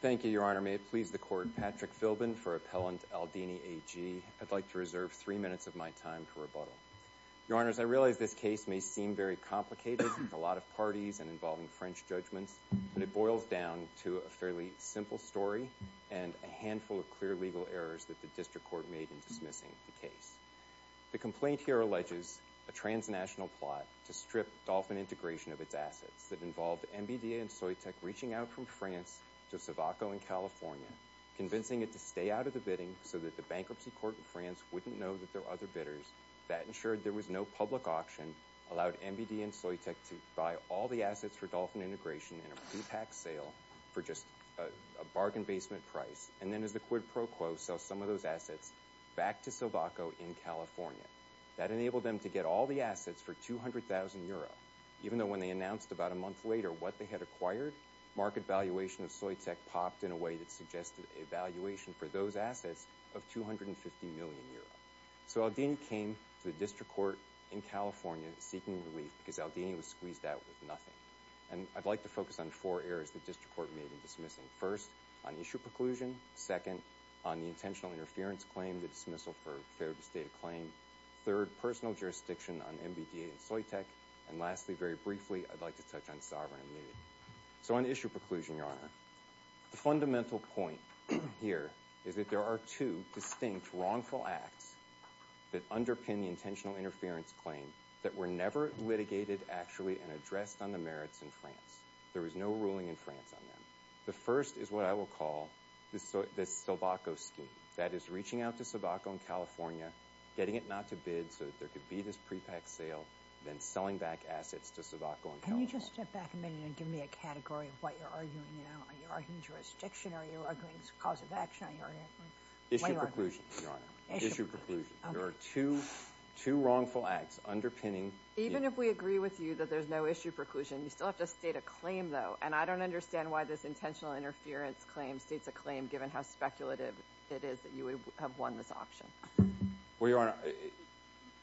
Thank you, Your Honor. May it please the Court, Patrick Philbin for Appellant Aldini, AG. I'd like to reserve three minutes of my time to rebuttal. Your Honors, I realize this case may seem very complicated with a lot of parties and involving French judgments, but it boils down to a fairly simple story and a handful of clear legal errors that the District Court made in dismissing the case. The complaint here alleges a transnational plot to strip Dolphin Integration of its assets that involved MBD and Soitec reaching out from France to Silvaco in California, convincing it to stay out of the bidding so that the Bankruptcy Court in France wouldn't know that there were other bidders. That ensured there was no public auction, allowed MBD and Soitec to buy all the assets for Dolphin Integration in a pre-packed sale for just a bargain basement price, and then as the quid pro quo, sell some of those assets back to Silvaco in California. That enabled them to get all the assets for 200,000 euro, even though when they announced about a month later what they had acquired, market valuation of Soitec popped in a way that suggested a valuation for those assets of 250 million euro. So Aldini came to the District Court in California seeking relief because Aldini was squeezed out with nothing. And I'd like to focus on four errors the District Court made in dismissing. First, on issue preclusion, second, on the intentional interference claim, the dismissal for failure to state a claim, third, personal jurisdiction on MBD and Soitec, and lastly, very briefly, I'd like to touch on sovereign immunity. So on issue preclusion, Your Honor, the fundamental point here is that there are two distinct wrongful acts that underpin the intentional interference claim that were never litigated actually and addressed on the merits in France. There was no ruling in France on them. The first is what I will call the Silvaco scheme. That is reaching out to Silvaco in California, getting it not to bid so that there could be this pre-packed sale, then selling back assets to Silvaco in California. Can you just step back a minute and give me a category of what you're arguing now? Are you arguing jurisdiction? Are you arguing cause of action? Issue preclusion, Your Honor. Issue preclusion. There are two wrongful acts underpinning— Even if we agree with you that there's no issue preclusion, you still have to state a claim, though. And I don't understand why this intentional interference claim states a claim given how speculative it is that you would have won this auction. Well, Your Honor,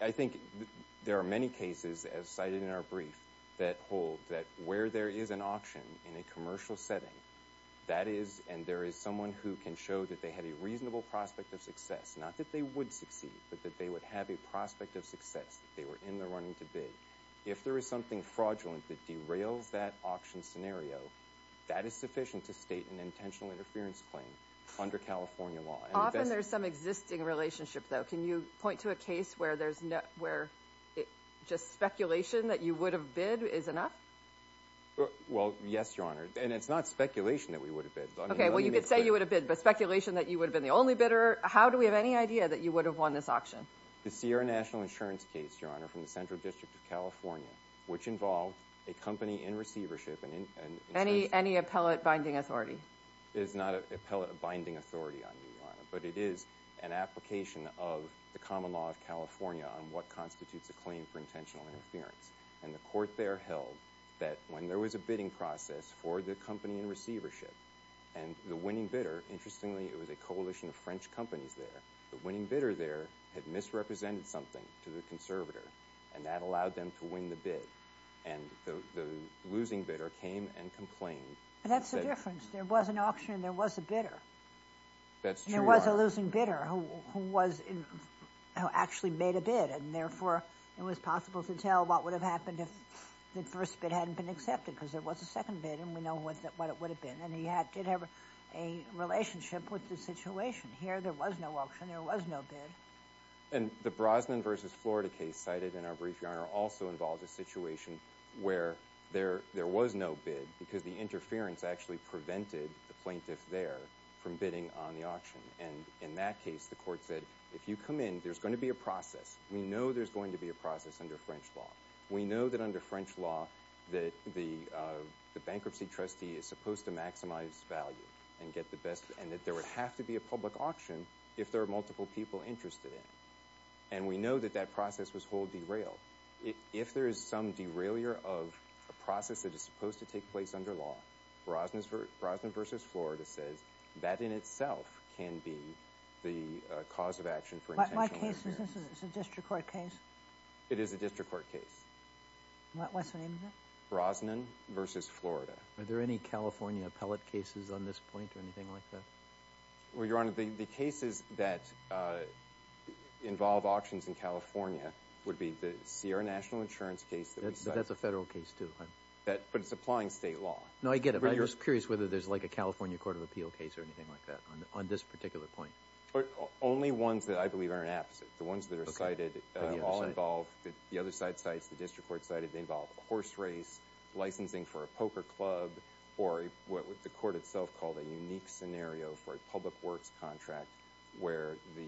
I think there are many cases, as cited in our brief, that hold that where there is an auction in a commercial setting, that is—and there is someone who can show that they had a reasonable prospect of success, not that they would succeed, but that they would have a prospect of success, that they were in the running to bid. If there is something fraudulent that derails that auction scenario, that is sufficient to state an intentional interference claim under California law. Often there's some existing relationship, though. Can you point to a case where there's—where just speculation that you would have bid is enough? Well, yes, Your Honor. And it's not speculation that we would have bid. Okay, well, you could say you would have bid, but speculation that you would have been the only bidder? How do we have any idea that you would have won this auction? The Sierra National Insurance case, Your Honor, from the Central District of California, which involved a company in receivership and— Any appellate binding authority. It is not an appellate binding authority on you, Your Honor, but it is an application of the common law of California on what constitutes a claim for intentional interference. And the court there held that when there was a bidding process for the company in receivership, and the winning bidder—interestingly, it was a coalition of French companies there—the winning bidder there had misrepresented something to the conservator, and that allowed them to win the bid. And the losing bidder came and complained. But that's the difference. There was an auctioner and there was a bidder. That's true, Your Honor. And there was a losing bidder who actually made a bid, and therefore it was possible to tell what would have happened if the first bid hadn't been accepted, because there was a second bid and we know what it would have been, and he did have a relationship with the situation. Here, there was no auction, there was no bid. And the Brosnan v. Florida case cited in our brief, Your Honor, also involves a situation where there was no bid because the interference actually prevented the plaintiff there from bidding on the auction. And in that case, the court said, if you come in, there's going to be a process. We know there's going to be a process under French law. We know that under French law, that the bankruptcy trustee is supposed to maximize value and get the best—and that there would have to be a public auction if there are multiple people interested in it. And we know that that process was whole derailed. If there is some derailure of a process that is supposed to take place under law, Brosnan v. Florida says that in itself can be the cause of action for intentional— My case, is this a district court case? It is a district court case. What's the name of it? Brosnan v. Florida. Are there any California appellate cases on this point or anything like that? Well, Your Honor, the cases that involve auctions in California would be the Sierra National Insurance case— That's a federal case, too. But it's applying state law. No, I get it. I'm just curious whether there's like a California Court of Appeal case or anything like that on this particular point. Only ones that I believe are an apposite. The ones that are cited all involve—the other side sites, the district court cited, they involve horse race, licensing for a poker club, or what the court itself called a unique scenario for a public works contract where the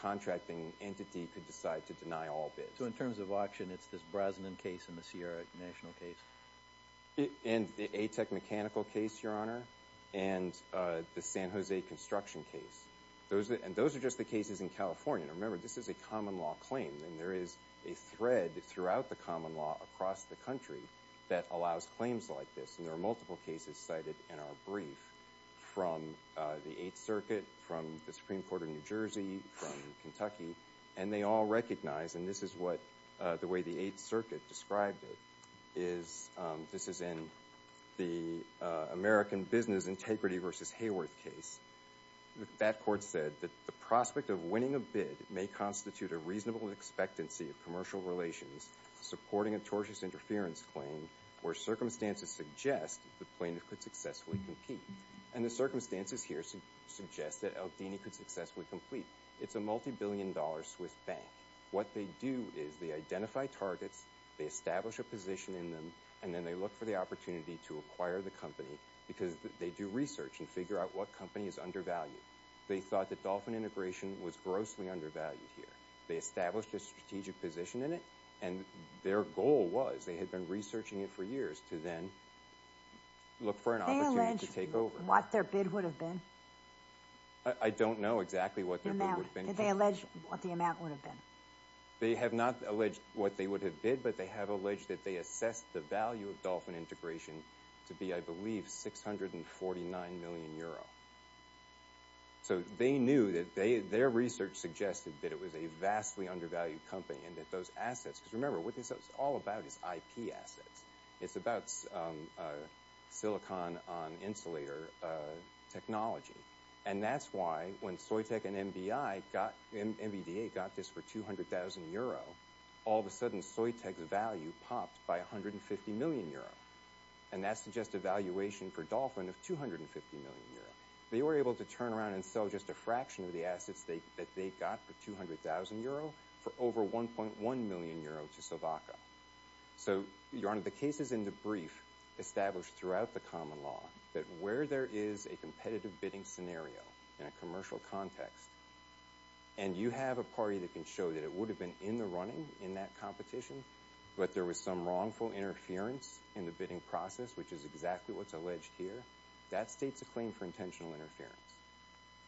contracting entity could decide to deny all bids. So in terms of auction, it's this Brosnan case and the Sierra National case? And the A-Tech Mechanical case, Your Honor, and the San Jose Construction case. And those are just the cases in California. Now remember, this is a common law claim, and there is a thread throughout the common law across the country that allows claims like this, and there are multiple cases cited in our brief from the Eighth Circuit, from the Supreme Court of New Jersey, from Kentucky, and they all recognize, and this is what the way the Eighth Circuit described it, is this is in the American Business Integrity v. Hayworth case. That court said that the prospect of winning a bid may constitute a reasonable expectancy of commercial relations supporting a tortious interference claim where circumstances suggest that the plaintiff could successfully compete. And the circumstances here suggest that Aldini could successfully complete. It's a multi-billion dollar Swiss bank. What they do is they identify targets, they establish a position in them, and then they look for the opportunity to acquire the company because they do research and figure out what company is undervalued. They thought that Dolphin Integration was grossly undervalued here. They established a strategic position in it, and their goal was, they had been researching it for years, to then look for an opportunity to take over. Did they allege what their bid would have been? I don't know exactly what their bid would have been. Did they allege what the amount would have been? They have not alleged what they would have bid, but they have alleged that they assessed the value of Dolphin Integration to be, I believe, 649 million euro. So they knew, their research suggested that it was a vastly undervalued company and that those assets, because remember, what this is all about is IP assets. It's about silicon on insulator technology. And that's why, when Soytec and MBDA got this for 200,000 euro, all of a sudden, Soytec's value popped by 150 million euro. And that suggests a valuation for Dolphin of 250 million euro. They were able to turn around and sell just a fraction of the assets that they got for 200,000 euro for over 1.1 million euro to Slovakia. So Your Honor, the case is in the brief established throughout the common law that where there is a competitive bidding scenario in a commercial context, and you have a party that can show that it would have been in the running in that competition, but there was some wrongful interference in the bidding process, which is exactly what's alleged here, that states a claim for intentional interference.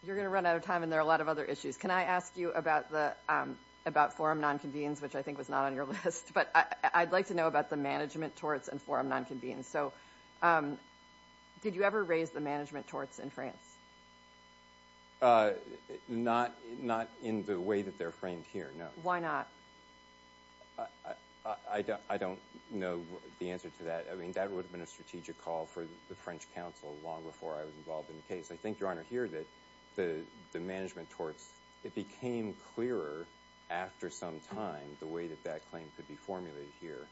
You're going to run out of time, and there are a lot of other issues. Can I ask you about forum non-convenience, which I think was not on your list, but I'd like to know about the management torts and forum non-convenience. So did you ever raise the management torts in France? Not in the way that they're framed here, no. Why not? I don't know the answer to that. I mean, that would have been a strategic call for the French Council long before I was involved in the case. I think, Your Honor, here that the management torts, it became clearer after some time the way that that claim could be formulated here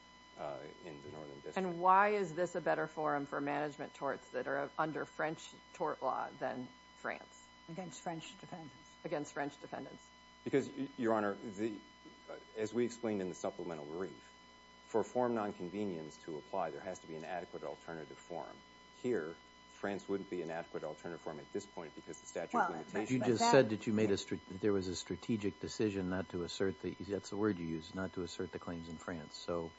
in the Northern District. And why is this a better forum for management torts that are under French tort law than France? Against French defendants. Against French defendants. Because Your Honor, as we explained in the supplemental brief, for forum non-convenience to apply, there has to be an adequate alternative forum. Here, France wouldn't be an adequate alternative forum at this point because the statute of You just said that you made a strategic decision not to assert the, that's the word you used, not to assert the claims in France. So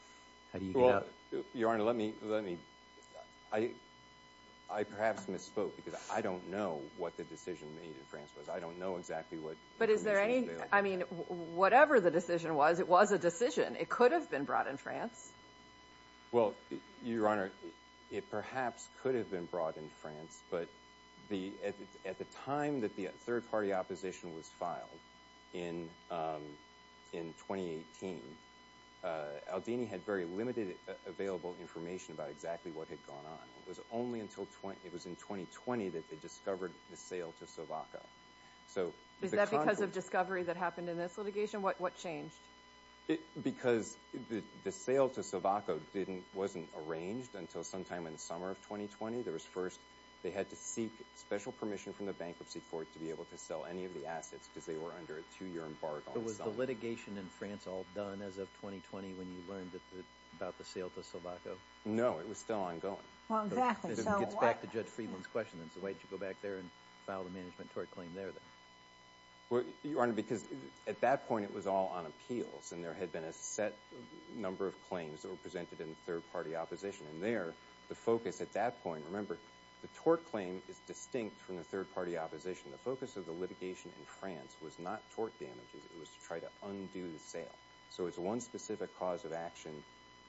how do you get out? Your Honor, let me, I perhaps misspoke because I don't know what the decision made in France was. I don't know exactly what the decision was. But is there any, I mean, whatever the decision was, it was a decision. It could have been brought in France. Well, Your Honor, it perhaps could have been brought in France, but the, at the time that the third party opposition was filed in, in 2018, Aldini had very limited available information about exactly what had gone on. It was only until 20, it was in 2020 that they discovered the sale to Sovacco. So is that because of discovery that happened in this litigation? What changed? It, because the, the sale to Sovacco didn't, wasn't arranged until sometime in the summer of 2020. There was first, they had to seek special permission from the bankruptcy court to be able to sell any of the assets because they were under a two-year embargo. But was the litigation in France all done as of 2020 when you learned about the sale to Sovacco? No, it was still ongoing. Well, exactly. So what? It gets back to Judge Friedland's question then. So why did you go back there and file the management tort claim there then? Well, Your Honor, because at that point it was all on appeals and there had been a set number of claims that were presented in the third party opposition. And there, the focus at that point, remember, the tort claim is distinct from the third party opposition. The focus of the litigation in France was not tort damages, it was to try to undo the So it's one specific cause of action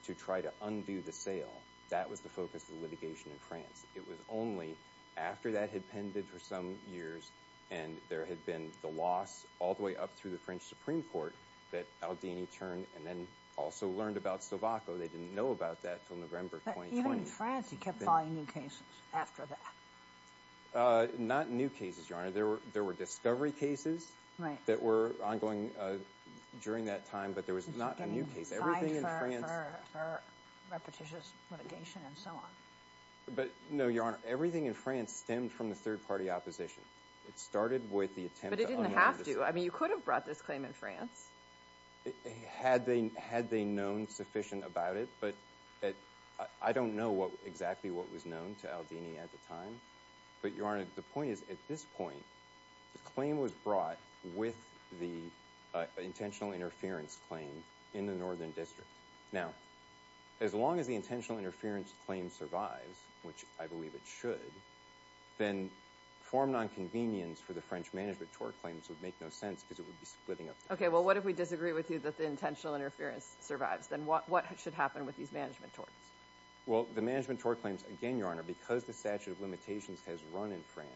to try to undo the sale. That was the focus of the litigation in France. It was only after that had pended for some years and there had been the loss all the way up through the French Supreme Court that Aldini turned and then also learned about Sovacco. They didn't know about that until November 2020. But even in France, he kept filing new cases after that. Not new cases, Your Honor. There were discovery cases that were ongoing during that time, but there was not a new case. Everything in France... He was getting fined for repetitious litigation and so on. But no, Your Honor, everything in France stemmed from the third party opposition. It started with the attempt to undo the... But it didn't have to. I mean, you could have brought this claim in France. Had they known sufficient about it, but I don't know exactly what was known to Aldini at the time. But Your Honor, the point is, at this point, the claim was brought with the intentional interference claim in the Northern District. Now, as long as the intentional interference claim survives, which I believe it should, then form nonconvenience for the French management tort claims would make no sense because it would be splitting up the case. Okay, well, what if we disagree with you that the intentional interference survives? Then what should happen with these management torts? Well, the management tort claims, again, Your Honor, because the statute of limitations has run in France,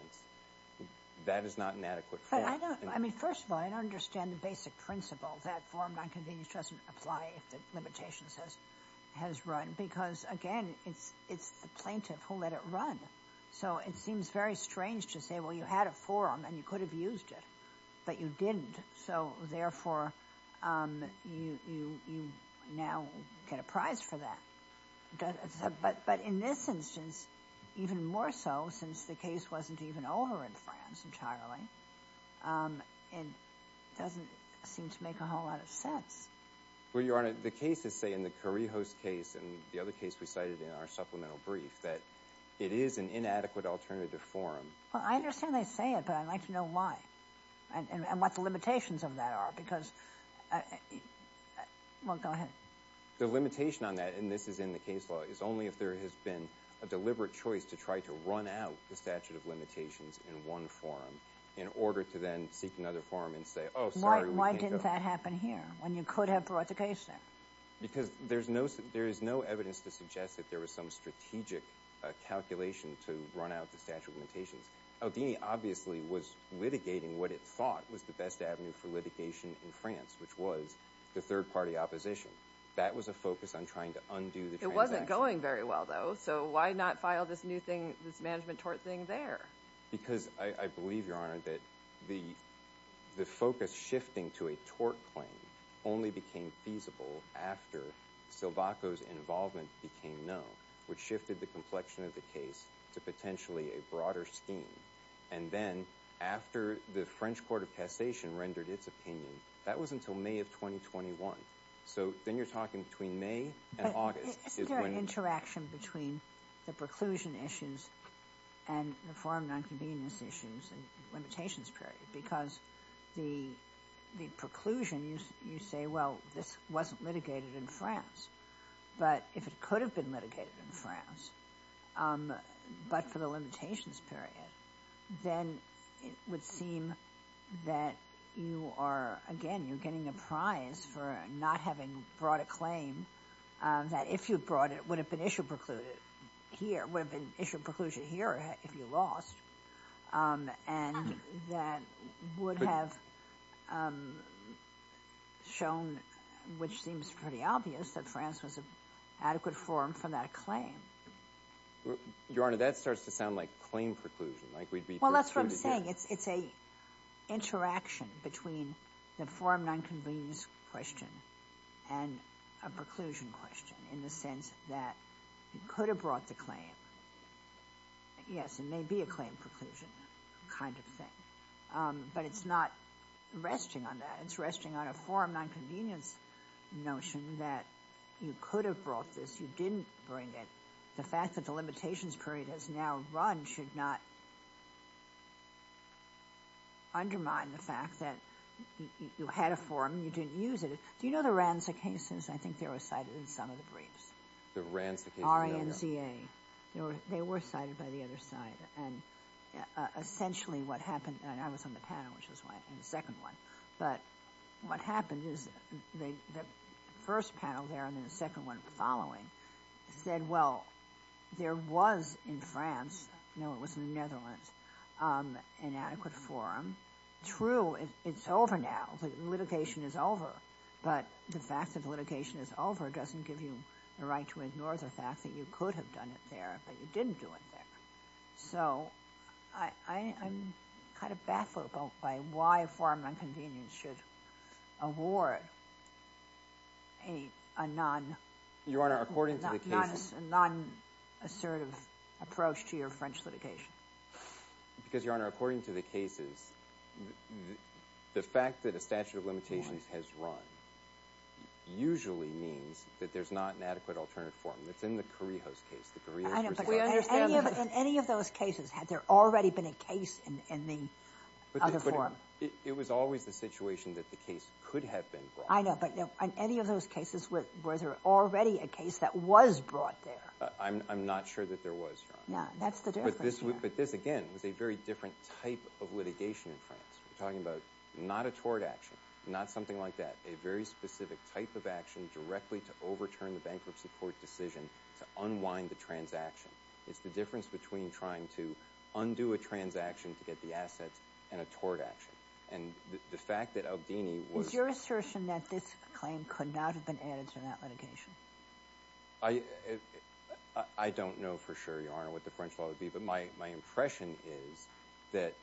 that is not an adequate form. But I don't... I mean, first of all, I don't understand the basic principle that form nonconvenience doesn't apply if the limitations has run. Because again, it's the plaintiff who let it run. So it seems very strange to say, well, you had a forum and you could have used it, but you didn't. So therefore, you now get a prize for that. But in this instance, even more so, since the case wasn't even over in France entirely, it doesn't seem to make a whole lot of sense. Well, Your Honor, the cases say in the Corrijos case and the other case we cited in our supplemental brief that it is an inadequate alternative forum. Well, I understand they say it, but I'd like to know why and what the limitations of that are because... Well, go ahead. The limitation on that, and this is in the case law, is only if there has been a deliberate choice to try to run out the statute of limitations in one forum in order to then seek another forum and say, oh, sorry, we can't go. Why didn't that happen here when you could have brought the case there? Because there is no evidence to suggest that there was some strategic calculation to run out the statute of limitations. Aldini obviously was litigating what it thought was the best avenue for litigation in France, which was the third-party opposition. That was a focus on trying to undo the transaction. It wasn't going very well, though. So why not file this new thing, this management tort thing there? Because I believe, Your Honor, that the focus shifting to a tort claim only became feasible after Silvaco's involvement became known, which shifted the complexion of the case to potentially a broader scheme. And then after the French Court of Cassation rendered its opinion, that was until May of 2021. So then you're talking between May and August is when... Between the preclusion issues and the forum nonconvenience issues and limitations period. Because the preclusion, you say, well, this wasn't litigated in France. But if it could have been litigated in France, but for the limitations period, then it would seem that you are, again, you're getting a prize for not having brought a claim that if you'd brought it, it would have been issue precluded here, would have been issued preclusion here if you lost. And that would have shown, which seems pretty obvious, that France was an adequate forum for that claim. Your Honor, that starts to sound like claim preclusion, like we'd be precluded. Well, that's what I'm saying. It's a interaction between the forum nonconvenience question and a preclusion question in the sense that you could have brought the claim. Yes, it may be a claim preclusion kind of thing, but it's not resting on that. It's resting on a forum nonconvenience notion that you could have brought this, you didn't bring it. The fact that the limitations period has now run should not undermine the fact that you had a forum, you didn't use it. Do you know the Ranzi cases? I think they were cited in some of the briefs. The Ranzi cases? R-N-Z-A. They were cited by the other side. And essentially what happened, and I was on the panel, which was why I didn't have a second one. But what happened is the first panel there and then the second one following said, well, there was in France, no, it was in the Netherlands, an adequate forum, true, it's over now, the litigation is over, but the fact that the litigation is over doesn't give you the right to ignore the fact that you could have done it there, but you didn't do it there. So I'm kind of baffled by why a forum nonconvenience should award a non-assertive approach to your French litigation. Because, Your Honor, according to the cases, the fact that a statute of limitations has run usually means that there's not an adequate alternative forum. It's in the Correios case. I know, but in any of those cases, had there already been a case in the other forum? It was always the situation that the case could have been brought. I know, but in any of those cases, was there already a case that was brought there? I'm not sure that there was, Your Honor. Yeah, that's the difference. But this, again, was a very different type of litigation in France. We're talking about not a tort action, not something like that, a very specific type of action directly to overturn the bankruptcy court decision to unwind the transaction. It's the difference between trying to undo a transaction to get the assets and a tort action. And the fact that Aldini was... Is your assertion that this claim could not have been added to that litigation? I don't know for sure, Your Honor, what the French law would be, but my impression is that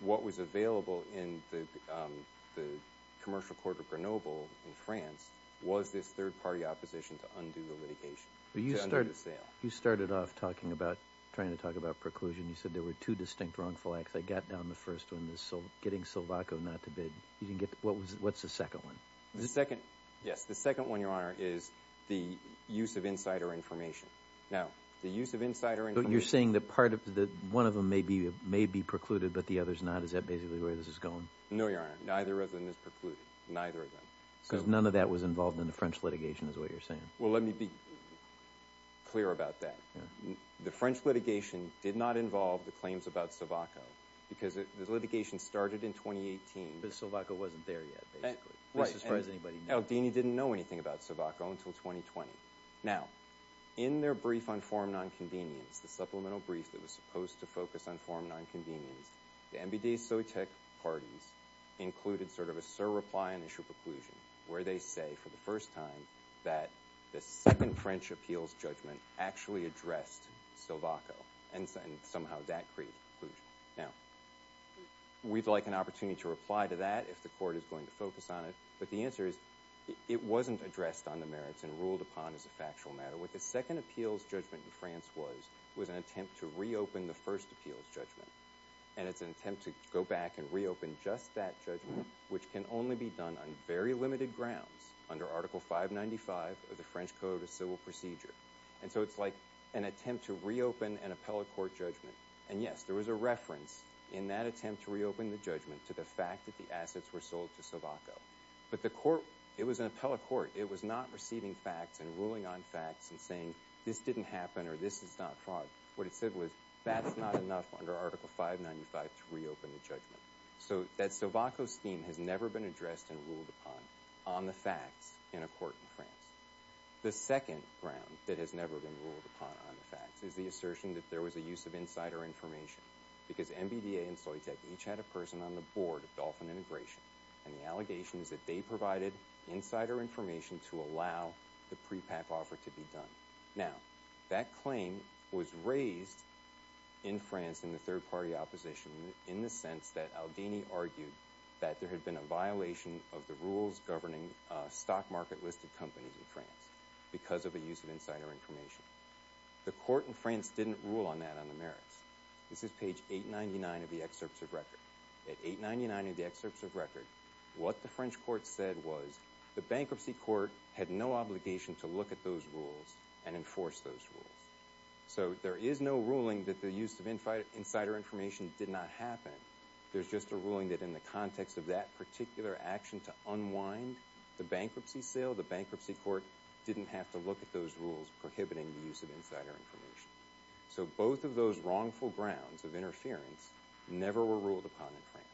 what was available in the Commercial Court of Grenoble in France was this third-party opposition to undo the litigation, to undo the sale. You started off talking about, trying to talk about preclusion, you said there were two distinct wrongful acts. I got down the first one, getting Silvaco not to bid. What's the second one? The second, yes, the second one, Your Honor, is the use of insider information. Now, the use of insider information... You're saying that one of them may be precluded, but the other's not? Is that basically where this is going? No, Your Honor, neither of them is precluded, neither of them. Because none of that was involved in the French litigation, is what you're saying? Well, let me be clear about that. The French litigation did not involve the claims about Silvaco, because the litigation started in 2018. But Silvaco wasn't there yet, basically. Right. And does anybody know? El Dini didn't know anything about Silvaco until 2020. Now, in their brief on forum non-convenience, the supplemental brief that was supposed to focus on forum non-convenience, the MBD-SOTEC parties included sort of a sur-repli and issue preclusion, where they say, for the first time, that the second French appeals judgment actually addressed Silvaco, and somehow that created preclusion. Now, we'd like an opportunity to reply to that, if the court is going to focus on it. But the answer is, it wasn't addressed on the merits and ruled upon as a factual matter. What the second appeals judgment in France was, was an attempt to reopen the first appeals judgment. And it's an attempt to go back and reopen just that judgment, which can only be done on very limited grounds, under Article 595 of the French Code of Civil Procedure. And so it's like an attempt to reopen an appellate court judgment. And yes, there was a reference in that attempt to reopen the judgment to the fact that the assets were sold to Silvaco. But the court, it was an appellate court. It was not receiving facts and ruling on facts and saying, this didn't happen or this is not fraud. What it said was, that's not enough under Article 595 to reopen the judgment. So that Silvaco scheme has never been addressed and ruled upon on the facts in a court in France. The second ground that has never been ruled upon on the facts is the assertion that there was a use of insider information. Because MBDA and Soitec each had a person on the board of Dolphin Integration, and the allegations that they provided insider information to allow the prepack offer to be done. Now, that claim was raised in France in the third party opposition, in the sense that Aldini argued that there had been a violation of the rules governing stock market listed companies in France, because of the use of insider information. The court in France didn't rule on that on the merits. This is page 899 of the excerpts of record. At 899 of the excerpts of record, what the French court said was, the bankruptcy court had no obligation to look at those rules and enforce those rules. So there is no ruling that the use of insider information did not happen. There's just a ruling that in the context of that particular action to unwind the bankruptcy sale, the bankruptcy court didn't have to look at those rules prohibiting the use of insider information. So both of those wrongful grounds of interference never were ruled upon in France.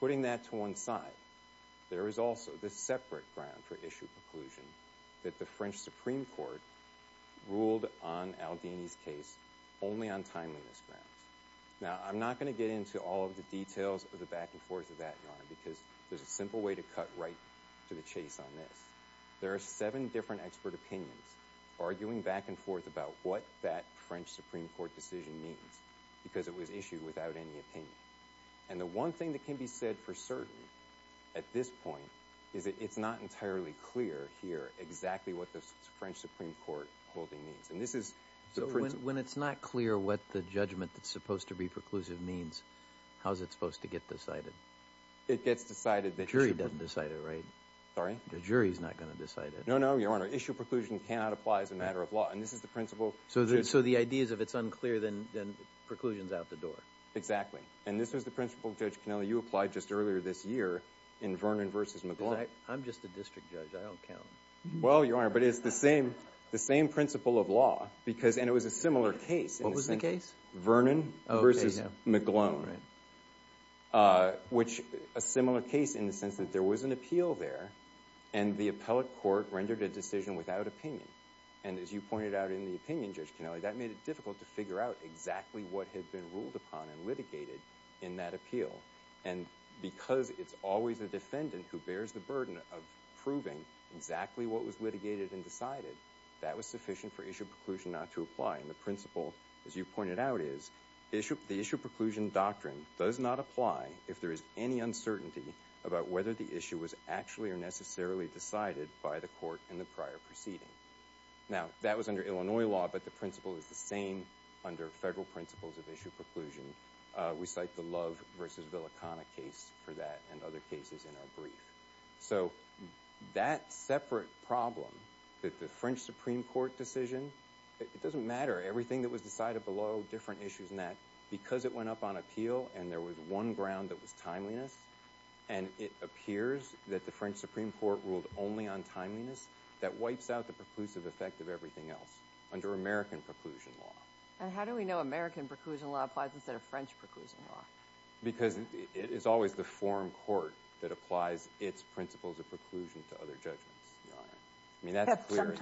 Putting that to one side, there is also this separate ground for issue preclusion that the French Supreme Court ruled on Aldini's case only on timeliness grounds. Now, I'm not going to get into all of the details of the back and forth of that, because there's a simple way to cut right to the chase on this. There are seven different expert opinions arguing back and forth about what that French Supreme Court decision means, because it was issued without any opinion. And the one thing that can be said for certain at this point is that it's not entirely clear here exactly what the French Supreme Court holding means. And this is the principle. So when it's not clear what the judgment that's supposed to be preclusive means, how's it supposed to get decided? It gets decided. The jury doesn't decide it, right? Sorry? The jury's not going to decide it. No, no, Your Honor. Issue preclusion cannot apply as a matter of law. And this is the principle. So the idea is if it's unclear, then preclusion's out the door. Exactly. And this was the principle, Judge Cannella, you applied just earlier this year in Vernon v. McGlone. I'm just a district judge. I don't count. Well, Your Honor, but it's the same principle of law, and it was a similar case. What was the case? Vernon v. McGlone. Oh, okay. Yeah, right. Vernon v. McGlone, which a similar case in the sense that there was an appeal there, and the appellate court rendered a decision without opinion. And as you pointed out in the opinion, Judge Cannella, that made it difficult to figure out exactly what had been ruled upon and litigated in that appeal. And because it's always the defendant who bears the burden of proving exactly what was litigated and decided, that was sufficient for issue preclusion not to apply. And the principle, as you pointed out, is the issue preclusion doctrine does not apply if there is any uncertainty about whether the issue was actually or necessarily decided by the court in the prior proceeding. Now that was under Illinois law, but the principle is the same under federal principles of issue preclusion. We cite the Love v. Villicana case for that and other cases in our brief. So that separate problem, that the French Supreme Court decision, it doesn't matter. Everything that was decided below, different issues in that, because it went up on appeal and there was one ground that was timeliness, and it appears that the French Supreme Court ruled only on timeliness, that wipes out the preclusive effect of everything else under American preclusion law. And how do we know American preclusion law applies instead of French preclusion law? Because it is always the foreign court that applies its principles of preclusion to other judgments, Your Honor. I mean, that's clear. Except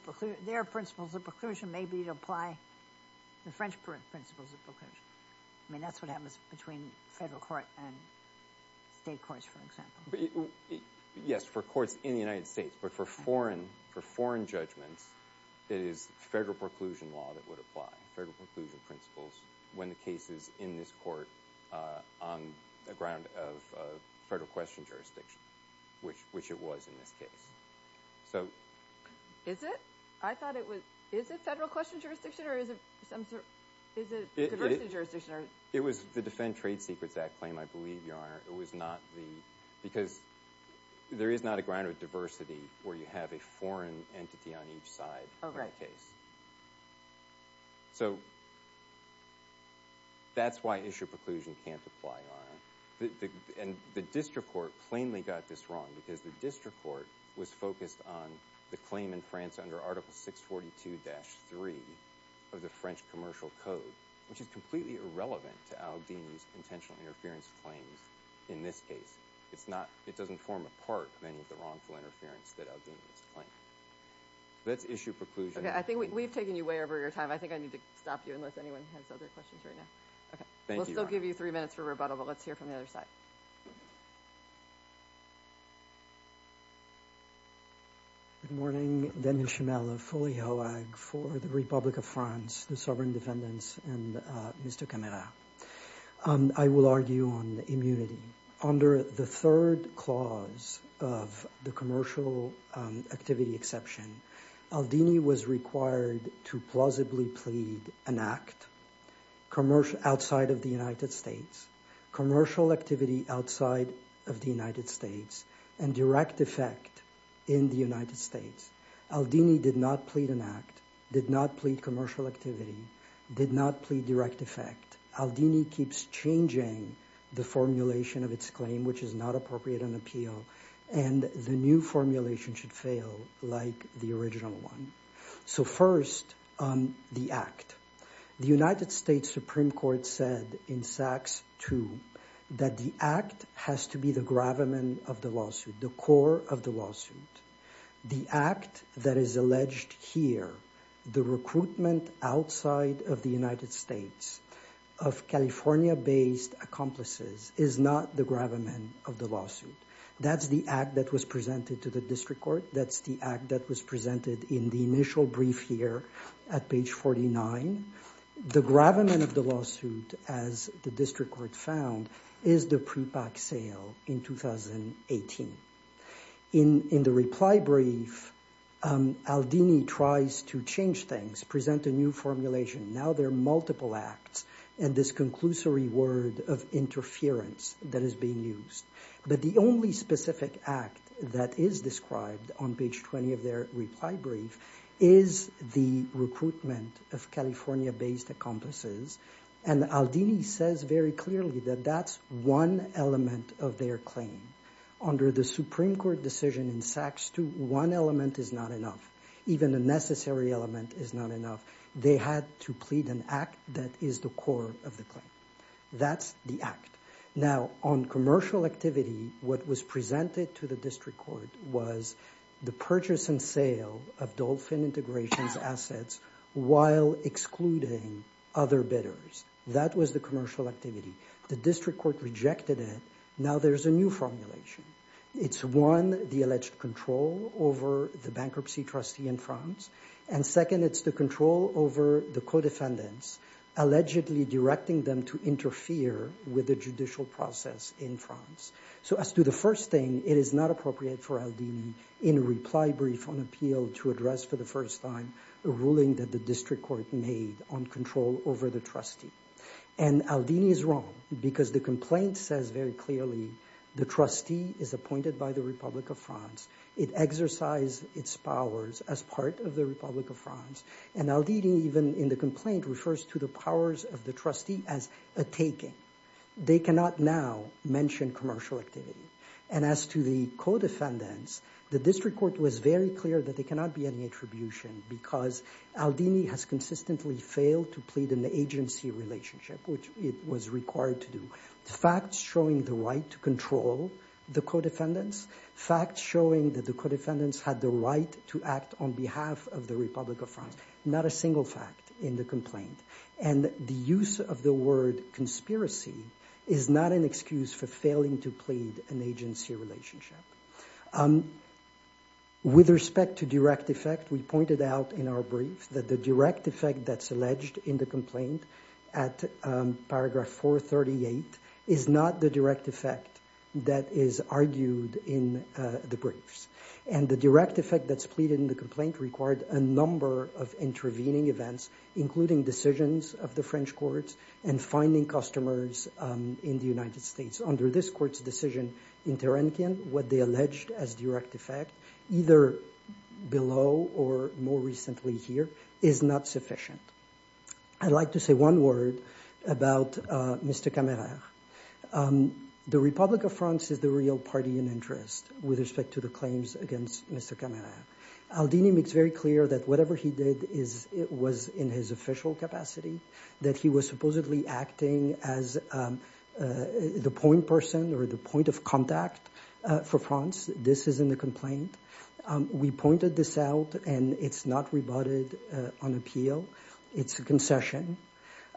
sometimes, their principles of preclusion may be to apply the French principles of preclusion. I mean, that's what happens between federal court and state courts, for example. Yes, for courts in the United States, but for foreign judgments, it is federal preclusion law that would apply, federal preclusion principles, when the case is in this court on the ground of federal question jurisdiction, which it was in this case. So... Is it? I thought it was... Is it federal question jurisdiction, or is it some sort of diversity jurisdiction? It was the Defend Trade Secrets Act claim, I believe, Your Honor. It was not the... Because there is not a ground of diversity where you have a foreign entity on each side of the case. Oh, right. So, that's why issue preclusion can't apply, Your Honor. And the district court plainly got this wrong, because the district court was focused on the claim in France under Article 642-3 of the French Commercial Code, which is completely irrelevant to Aldini's intentional interference claims in this case. It's not... It doesn't form a part of any of the wrongful interference that Aldini has claimed. Let's issue preclusion. I think we've taken you way over your time. I think I need to stop you, unless anyone has other questions right now. Okay. Thank you, Your Honor. We'll still give you three minutes for rebuttal, but let's hear from the other side. Good morning. Denis Chameleau, Foley-Hoag, for the Republic of France, the Sovereign Defendants, and Mr. Camara. I will argue on immunity. Under the third clause of the commercial activity exception, Aldini was required to plausibly plead an act outside of the United States, commercial activity outside of the United States, and direct effect in the United States. Aldini did not plead an act, did not plead commercial activity, did not plead direct effect. Aldini keeps changing the formulation of its claim, which is not appropriate in appeal, and the new formulation should fail like the original one. So, first, the act. The United States Supreme Court said in Saxe II that the act has to be the gravamen of the lawsuit, the core of the lawsuit. The act that is alleged here, the recruitment outside of the United States of California-based accomplices, is not the gravamen of the lawsuit. That's the act that was presented to the district court. That's the act that was presented in the initial brief here at page 49. The gravamen of the lawsuit, as the district court found, is the prepack sale in 2018. In the reply brief, Aldini tries to change things, present a new formulation. Now there are multiple acts, and this conclusory word of interference that is being used. But the only specific act that is described on page 20 of their reply brief is the recruitment of California-based accomplices, and Aldini says very clearly that that's one element of their claim. Under the Supreme Court decision in Saxe II, one element is not enough. Even a necessary element is not enough. They had to plead an act that is the core of the claim. That's the act. Now, on commercial activity, what was presented to the district court was the purchase and sale of Dolphin Integrations assets while excluding other bidders. That was the commercial activity. The district court rejected it. Now there's a new formulation. It's one, the alleged control over the bankruptcy trustee in France, and second, it's the control over the co-defendants, allegedly directing them to interfere with the judicial process in France. So as to the first thing, it is not appropriate for Aldini in a reply brief on appeal to address for the first time a ruling that the district court made on control over the trustee. And Aldini is wrong because the complaint says very clearly the trustee is appointed by the Republic of France. It exercised its powers as part of the Republic of France, and Aldini even in the complaint refers to the powers of the trustee as a taking. They cannot now mention commercial activity. And as to the co-defendants, the district court was very clear that there cannot be because Aldini has consistently failed to plead an agency relationship, which it was required to do, facts showing the right to control the co-defendants, facts showing that the co-defendants had the right to act on behalf of the Republic of France, not a single fact in the complaint. And the use of the word conspiracy is not an excuse for failing to plead an agency relationship. With respect to direct effect, we pointed out in our brief that the direct effect that's alleged in the complaint at paragraph 438 is not the direct effect that is argued in the briefs. And the direct effect that's pleaded in the complaint required a number of intervening events, including decisions of the French courts and finding customers in the United States. Under this court's decision in Tarankin, what they alleged as direct effect, either below or more recently here, is not sufficient. I'd like to say one word about Mr. Camara. The Republic of France is the real party in interest with respect to the claims against Mr. Camara. Aldini makes very clear that whatever he did was in his official capacity, that he was the prime person or the point of contact for France. This is in the complaint. We pointed this out, and it's not rebutted on appeal. It's a concession.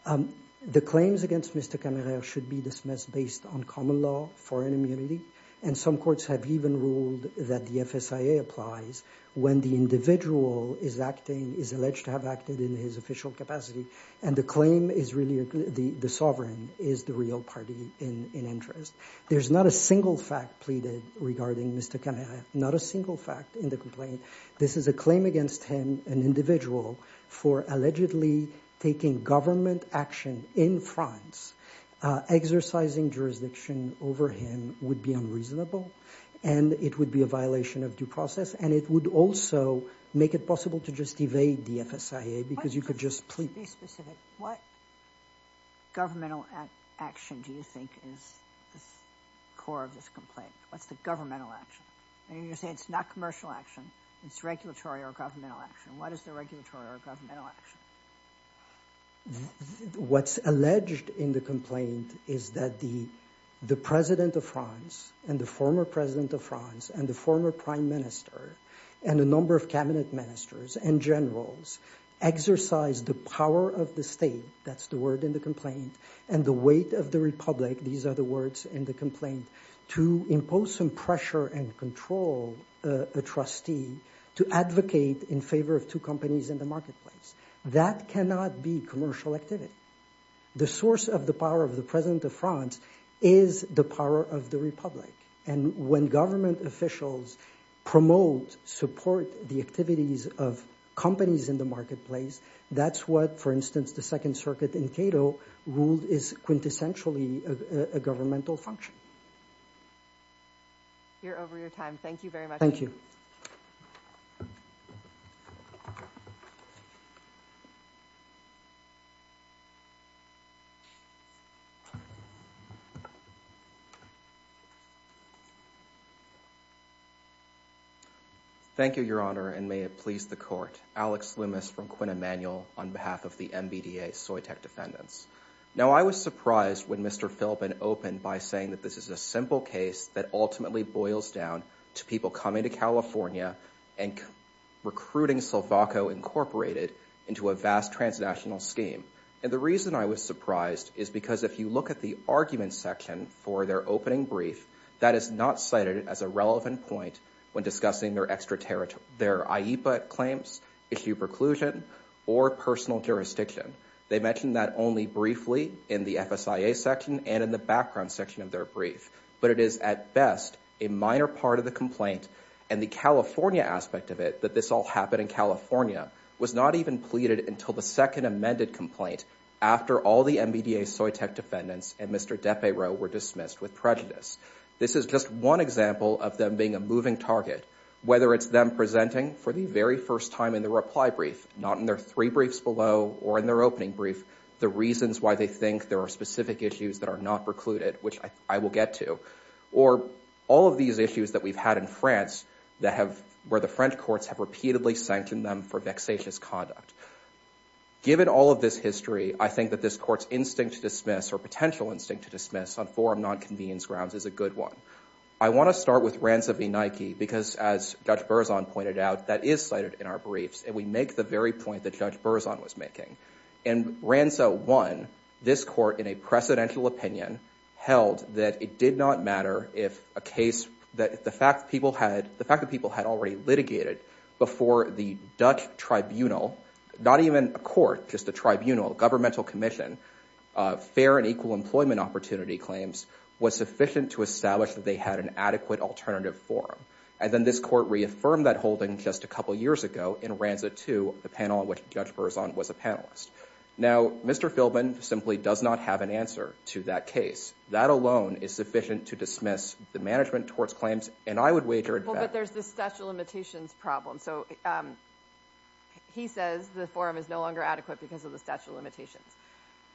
The claims against Mr. Camara should be dismissed based on common law, foreign immunity, and some courts have even ruled that the FSIA applies when the individual is acting, is alleged to have acted in his official capacity. And the claim is really the sovereign is the real party in interest. There's not a single fact pleaded regarding Mr. Camara, not a single fact in the complaint. This is a claim against him, an individual, for allegedly taking government action in France. Exercising jurisdiction over him would be unreasonable, and it would be a violation of due process, and it would also make it possible to just evade the FSIA because you could just plead. To be specific, what governmental action do you think is the core of this complaint? What's the governmental action? I mean, you're saying it's not commercial action. It's regulatory or governmental action. What is the regulatory or governmental action? What's alleged in the complaint is that the president of France and the former president of France and the former prime minister and a number of cabinet ministers and generals exercise the power of the state – that's the word in the complaint – and the weight of the republic – these are the words in the complaint – to impose some pressure and control a trustee to advocate in favor of two companies in the marketplace. That cannot be commercial activity. The source of the power of the president of France is the power of the republic. And when government officials promote, support the activities of companies in the marketplace, that's what, for instance, the Second Circuit in Cato ruled is quintessentially a governmental function. You're over your time. Thank you very much. Thank you, Your Honor, and may it please the Court. Alex Loomis from Quinn Emanuel on behalf of the MBDA Soytec Defendants. Now, I was surprised when Mr. Philbin opened by saying that this is a simple case that ultimately boils down to people coming to California and recruiting Silvaco Incorporated into a vast transnational scheme. And the reason I was surprised is because if you look at the argument section for their opening brief, that is not cited as a relevant point when discussing their IEPA claims, issue preclusion, or personal jurisdiction. They mention that only briefly in the FSIA section and in the background section of their brief. But it is, at best, a minor part of the complaint, and the California aspect of it, that this all happened in California, was not even pleaded until the second amended complaint after all the MBDA Soytec Defendants and Mr. Depayreau were dismissed with prejudice. This is just one example of them being a moving target, whether it's them presenting for the very first time in the reply brief, not in their three briefs below or in their opening brief, the reasons why they think there are specific issues that are not precluded, which I will get to, or all of these issues that we've had in France where the French courts have repeatedly sanctioned them for vexatious conduct. Given all of this history, I think that this court's instinct to dismiss, or potential instinct to dismiss, on forum non-convenience grounds is a good one. I want to start with RANSA v. Nike because, as Judge Berzon pointed out, that is cited in our briefs, and we make the very point that Judge Berzon was making. In RANSA 1, this court, in a precedential opinion, held that it did not matter if a case, the fact that people had already litigated before the Dutch tribunal, not even a court, just a tribunal, governmental commission, fair and equal employment opportunity claims, was sufficient to establish that they had an adequate alternative forum. And then this court reaffirmed that holding just a couple years ago in RANSA 2, the panel in which Judge Berzon was a panelist. Now, Mr. Philbin simply does not have an answer to that case. That alone is sufficient to dismiss the management towards claims, and I would wager that- Well, but there's the statute of limitations problem. So he says the forum is no longer adequate because of the statute of limitations.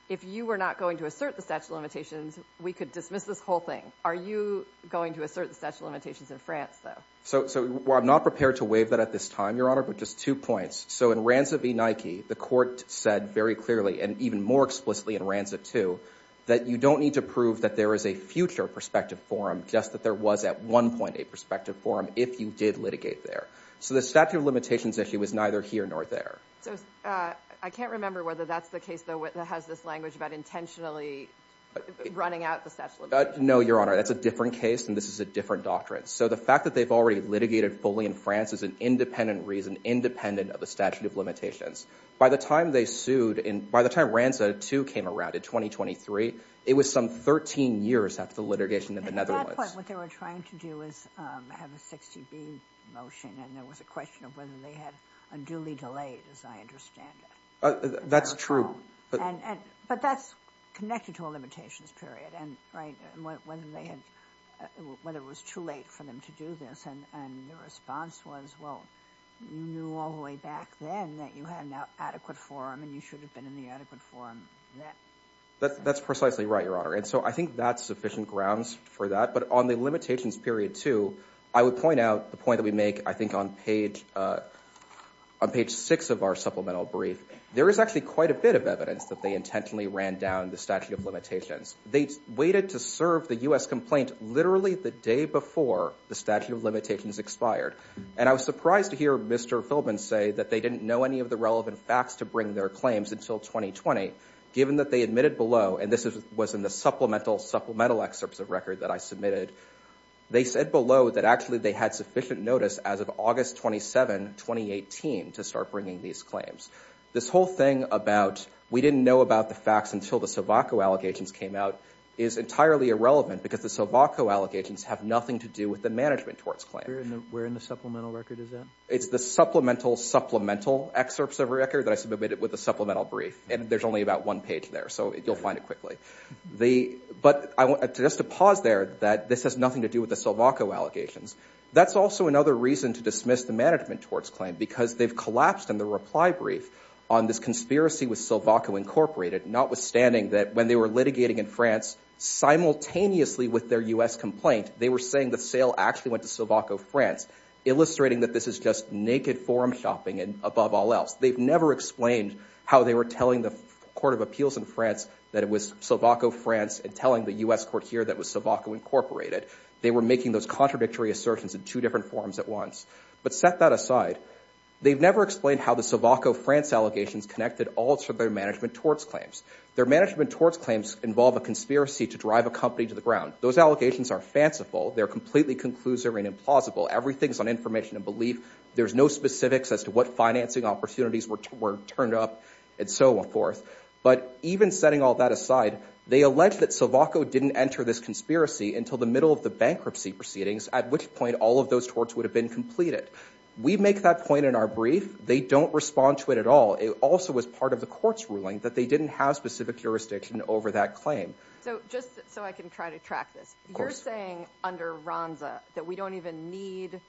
If you were not going to assert the statute of limitations, we could dismiss this whole thing. Are you going to assert the statute of limitations in France, though? So I'm not prepared to waive that at this time, Your Honor, but just two points. So in RANSA v. Nike, the court said very clearly, and even more explicitly in RANSA 2, that you don't need to prove that there is a future prospective forum, just that there was at one point a prospective forum if you did litigate there. So the statute of limitations issue is neither here nor there. So I can't remember whether that's the case, though, that has this language about intentionally running out the statute of limitations. No, Your Honor, that's a different case, and this is a different doctrine. So the fact that they've already litigated fully in France is an independent reason, independent of the statute of limitations. By the time they sued, by the time RANSA 2 came around in 2023, it was some 13 years after the litigation in the Netherlands. At that point, what they were trying to do was have a 60B motion, and there was a question of whether they had unduly delayed, as I understand it. That's true. But that's connected to a limitations period, and whether it was too late for them to do this. And the response was, well, you knew all the way back then that you had an adequate forum, and you should have been in the adequate forum then. That's precisely right, Your Honor. And so I think that's sufficient grounds for that. But on the limitations period, too, I would point out the point that we make, I think, on page 6 of our supplemental brief. There is actually quite a bit of evidence that they intentionally ran down the statute of limitations. They waited to serve the U.S. complaint literally the day before the statute of limitations expired. And I was surprised to hear Mr. Philbin say that they didn't know any of the relevant facts to bring their claims until 2020, given that they admitted below, and this was in the supplemental, supplemental excerpts of record that I submitted, they said below that actually they had sufficient notice as of August 27, 2018, to start bringing these claims. This whole thing about we didn't know about the facts until the SILVACO allegations came out is entirely irrelevant because the SILVACO allegations have nothing to do with the management towards claim. Where in the supplemental record is that? It's the supplemental, supplemental excerpts of record that I submitted with the supplemental brief. And there's only about one page there, so you'll find it quickly. But just to pause there, that this has nothing to do with the SILVACO allegations. That's also another reason to dismiss the management towards claim because they've collapsed in the reply brief on this conspiracy with SILVACO Incorporated, notwithstanding that when they were litigating in France simultaneously with their U.S. complaint, they were saying the sale actually went to SILVACO France, illustrating that this is just naked forum shopping and above all else. They've never explained how they were telling the Court of Appeals in France that it was SILVACO France and telling the U.S. court here that it was SILVACO Incorporated. They were making those contradictory assertions in two different forums at once. But set that aside, they've never explained how the SILVACO France allegations connected all to their management towards claims. Their management towards claims involve a conspiracy to drive a company to the ground. Those allegations are fanciful. They're completely conclusive and implausible. Everything's on information and belief. There's no specifics as to what financing opportunities were turned up and so forth. But even setting all that aside, they allege that SILVACO didn't enter this conspiracy until the middle of the bankruptcy proceedings, at which point all of those torts would have been completed. We make that point in our brief. They don't respond to it at all. It also was part of the court's ruling that they didn't have specific jurisdiction over that claim. So just so I can try to track this, you're saying under Ronza that we don't even need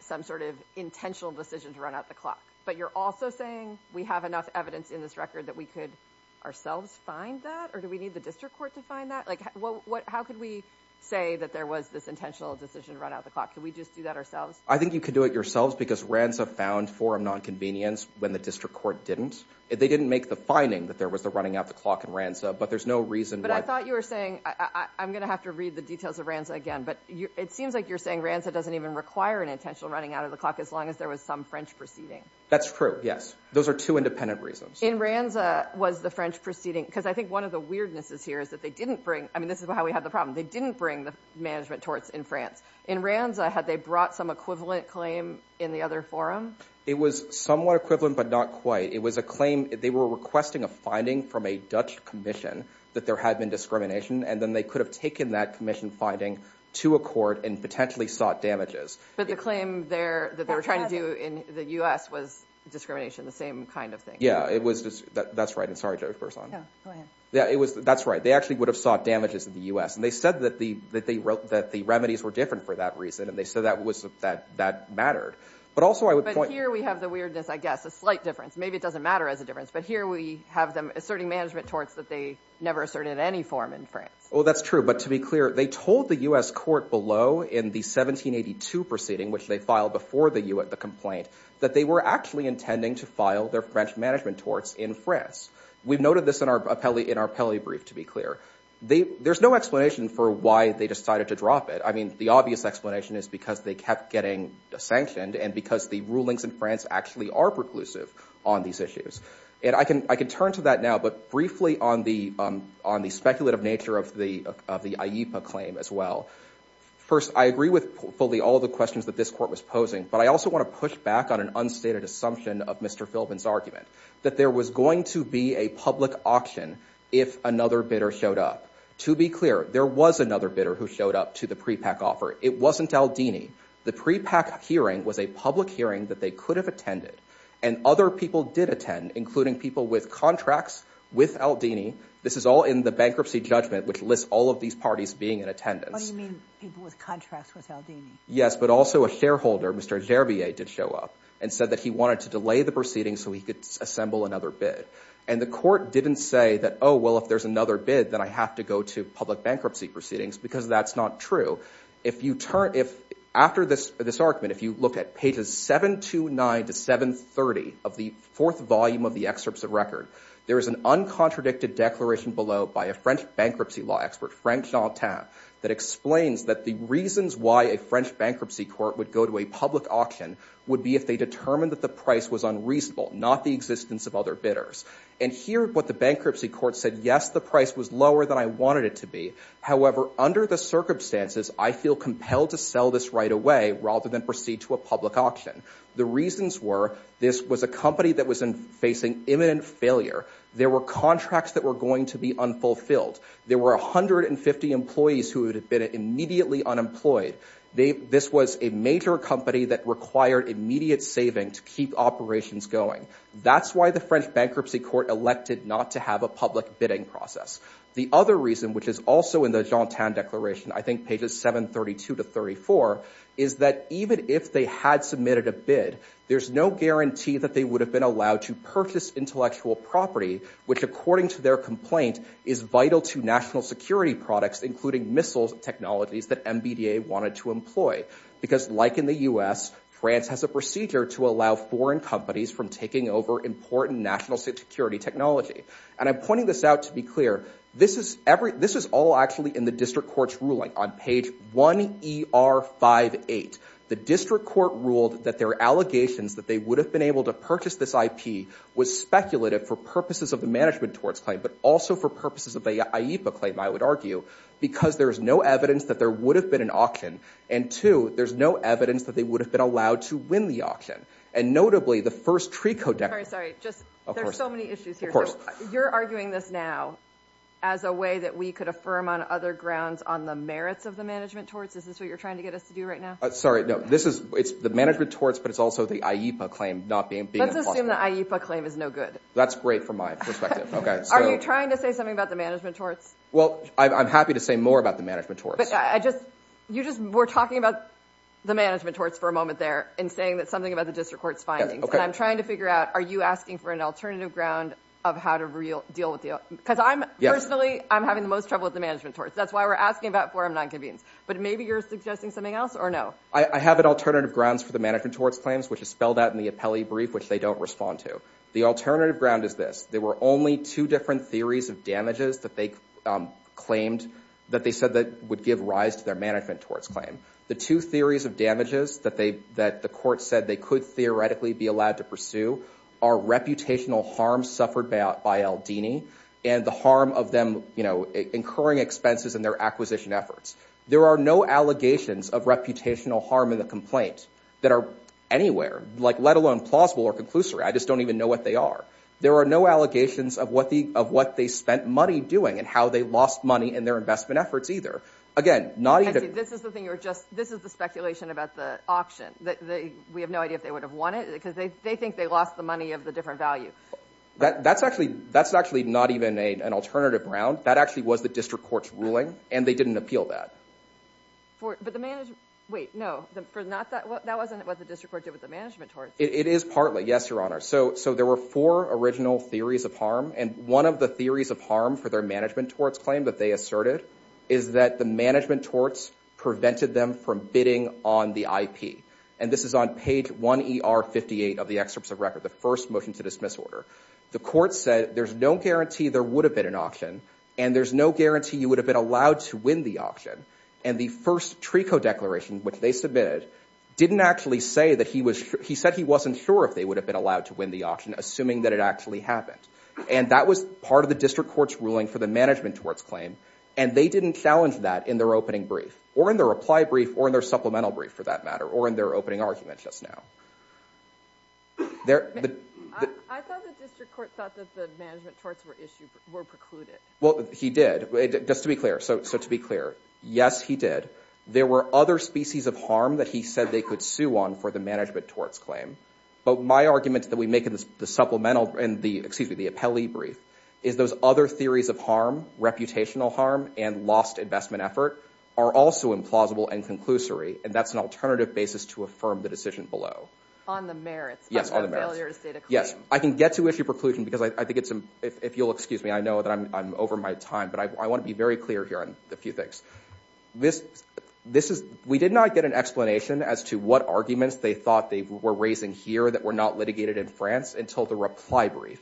some sort of intentional decision to run out the clock, but you're also saying we have enough evidence in this record that we could ourselves find that or do we need the district court to find that? How could we say that there was this intentional decision to run out the clock? Could we just do that ourselves? I think you could do it yourselves because Ronza found forum nonconvenience when the district court didn't. They didn't make the finding that there was the running out the clock in Ronza, but there's no reason why— But I thought you were saying—I'm going to have to read the details of Ronza again, but it seems like you're saying Ronza doesn't even require an intentional running out of the clock as long as there was some French proceeding. That's true, yes. Those are two independent reasons. In Ronza, was the French proceeding—because I think one of the weirdnesses here is that they didn't bring— I mean, this is how we have the problem. They didn't bring the management torts in France. In Ronza, had they brought some equivalent claim in the other forum? It was somewhat equivalent but not quite. It was a claim—they were requesting a finding from a Dutch commission that there had been discrimination, and then they could have taken that commission finding to a court and potentially sought damages. But the claim there that they were trying to do in the U.S. was discrimination, the same kind of thing. Yeah, it was—that's right. I'm sorry, Judge Berzon. Yeah, go ahead. Yeah, it was—that's right. They actually would have sought damages in the U.S., and they said that the remedies were different for that reason, and they said that mattered. But also I would point— But here we have the weirdness, I guess, a slight difference. Maybe it doesn't matter as a difference, but here we have them asserting management torts that they never asserted in any forum in France. Oh, that's true. But to be clear, they told the U.S. court below in the 1782 proceeding, which they filed before the complaint, that they were actually intending to file their French management torts in France. We've noted this in our Peli brief, to be clear. There's no explanation for why they decided to drop it. I mean, the obvious explanation is because they kept getting sanctioned and because the rulings in France actually are preclusive on these issues. And I can turn to that now, but briefly on the speculative nature of the AIPA claim as well. First, I agree with fully all of the questions that this court was posing, but I also want to push back on an unstated assumption of Mr. Philbin's argument, that there was going to be a public auction if another bidder showed up. To be clear, there was another bidder who showed up to the prepack offer. It wasn't Aldini. The prepack hearing was a public hearing that they could have attended, and other people did attend, including people with contracts with Aldini. This is all in the bankruptcy judgment, which lists all of these parties being in attendance. Oh, you mean people with contracts with Aldini? Yes, but also a shareholder, Mr. Gervier, did show up and said that he wanted to delay the proceedings so he could assemble another bid. And the court didn't say that, oh, well, if there's another bid, then I have to go to public bankruptcy proceedings because that's not true. After this argument, if you look at pages 729 to 730 of the fourth volume of the excerpts of record, there is an uncontradicted declaration below by a French bankruptcy law expert, that explains that the reasons why a French bankruptcy court would go to a public auction would be if they determined that the price was unreasonable, not the existence of other bidders. And here what the bankruptcy court said, yes, the price was lower than I wanted it to be. However, under the circumstances, I feel compelled to sell this right away rather than proceed to a public auction. The reasons were this was a company that was facing imminent failure. There were contracts that were going to be unfulfilled. There were 150 employees who would have been immediately unemployed. This was a major company that required immediate saving to keep operations going. That's why the French bankruptcy court elected not to have a public bidding process. The other reason, which is also in the Jean Tan Declaration, I think pages 732 to 734, is that even if they had submitted a bid, there's no guarantee that they would have been allowed to purchase intellectual property, which according to their complaint is vital to national security products, including missile technologies that MBDA wanted to employ. Because like in the U.S., France has a procedure to allow foreign companies from taking over important national security technology. And I'm pointing this out to be clear. This is all actually in the district court's ruling on page 1ER58. The district court ruled that their allegations that they would have been able to purchase this IP was speculative for purposes of the management torts claim, but also for purposes of the IEPA claim, I would argue, because there's no evidence that there would have been an auction, and two, there's no evidence that they would have been allowed to win the auction. And notably, the first TRECO declaration. Sorry, sorry. There's so many issues here. You're arguing this now as a way that we could affirm on other grounds on the merits of the management torts? Is this what you're trying to get us to do right now? Sorry, no. It's the management torts, but it's also the IEPA claim. Let's assume the IEPA claim is no good. That's great from my perspective. Are you trying to say something about the management torts? Well, I'm happy to say more about the management torts. You just were talking about the management torts for a moment there and saying something about the district court's findings. And I'm trying to figure out, are you asking for an alternative ground of how to deal with the other? Because personally, I'm having the most trouble with the management torts. That's why we're asking about forum nonconvenience. But maybe you're suggesting something else, or no? I have an alternative grounds for the management torts claims, which is spelled out in the appellee brief, which they don't respond to. The alternative ground is this. There were only two different theories of damages that they claimed, that they said would give rise to their management torts claim. The two theories of damages that the court said they could theoretically be allowed to pursue are reputational harm suffered by Aldini and the harm of them incurring expenses in their acquisition efforts. There are no allegations of reputational harm in the complaint that are anywhere, let alone plausible or conclusory. I just don't even know what they are. There are no allegations of what they spent money doing and how they lost money in their investment efforts either. Again, not even... This is the speculation about the auction. We have no idea if they would have won it because they think they lost the money of the different value. That's actually not even an alternative ground. That actually was the district court's ruling and they didn't appeal that. But the management... Wait, no. That wasn't what the district court did with the management torts. It is partly, yes, Your Honor. So there were four original theories of harm and one of the theories of harm for their management torts claim that they asserted is that the management torts prevented them from bidding on the IP. And this is on page 1ER58 of the excerpts of record, the first motion to dismiss order. The court said there's no guarantee there would have been an auction and there's no guarantee you would have been allowed to win the auction. And the first TRECO declaration, which they submitted, didn't actually say that he was... He said he wasn't sure if they would have been allowed to win the auction assuming that it actually happened. And that was part of the district court's ruling for the management torts claim and they didn't challenge that in their opening brief or in their reply brief or in their supplemental brief for that matter or in their opening argument just now. There... I thought the district court thought that the management torts were precluded. Well, he did. Just to be clear, so to be clear, yes, he did. There were other species of harm that he said they could sue on for the management torts claim. But my argument that we make in the supplemental, excuse me, the appellee brief, is those other theories of harm, reputational harm, and lost investment effort are also implausible and conclusory and that's an alternative basis to affirm the decision below. On the merits of the failure to state a claim. Yes, I can get to issue preclusion because I think it's... If you'll excuse me, I know that I'm over my time, but I want to be very clear here on a few things. This is... We did not get an explanation as to what arguments they thought they were raising here that were not litigated in France until the reply brief.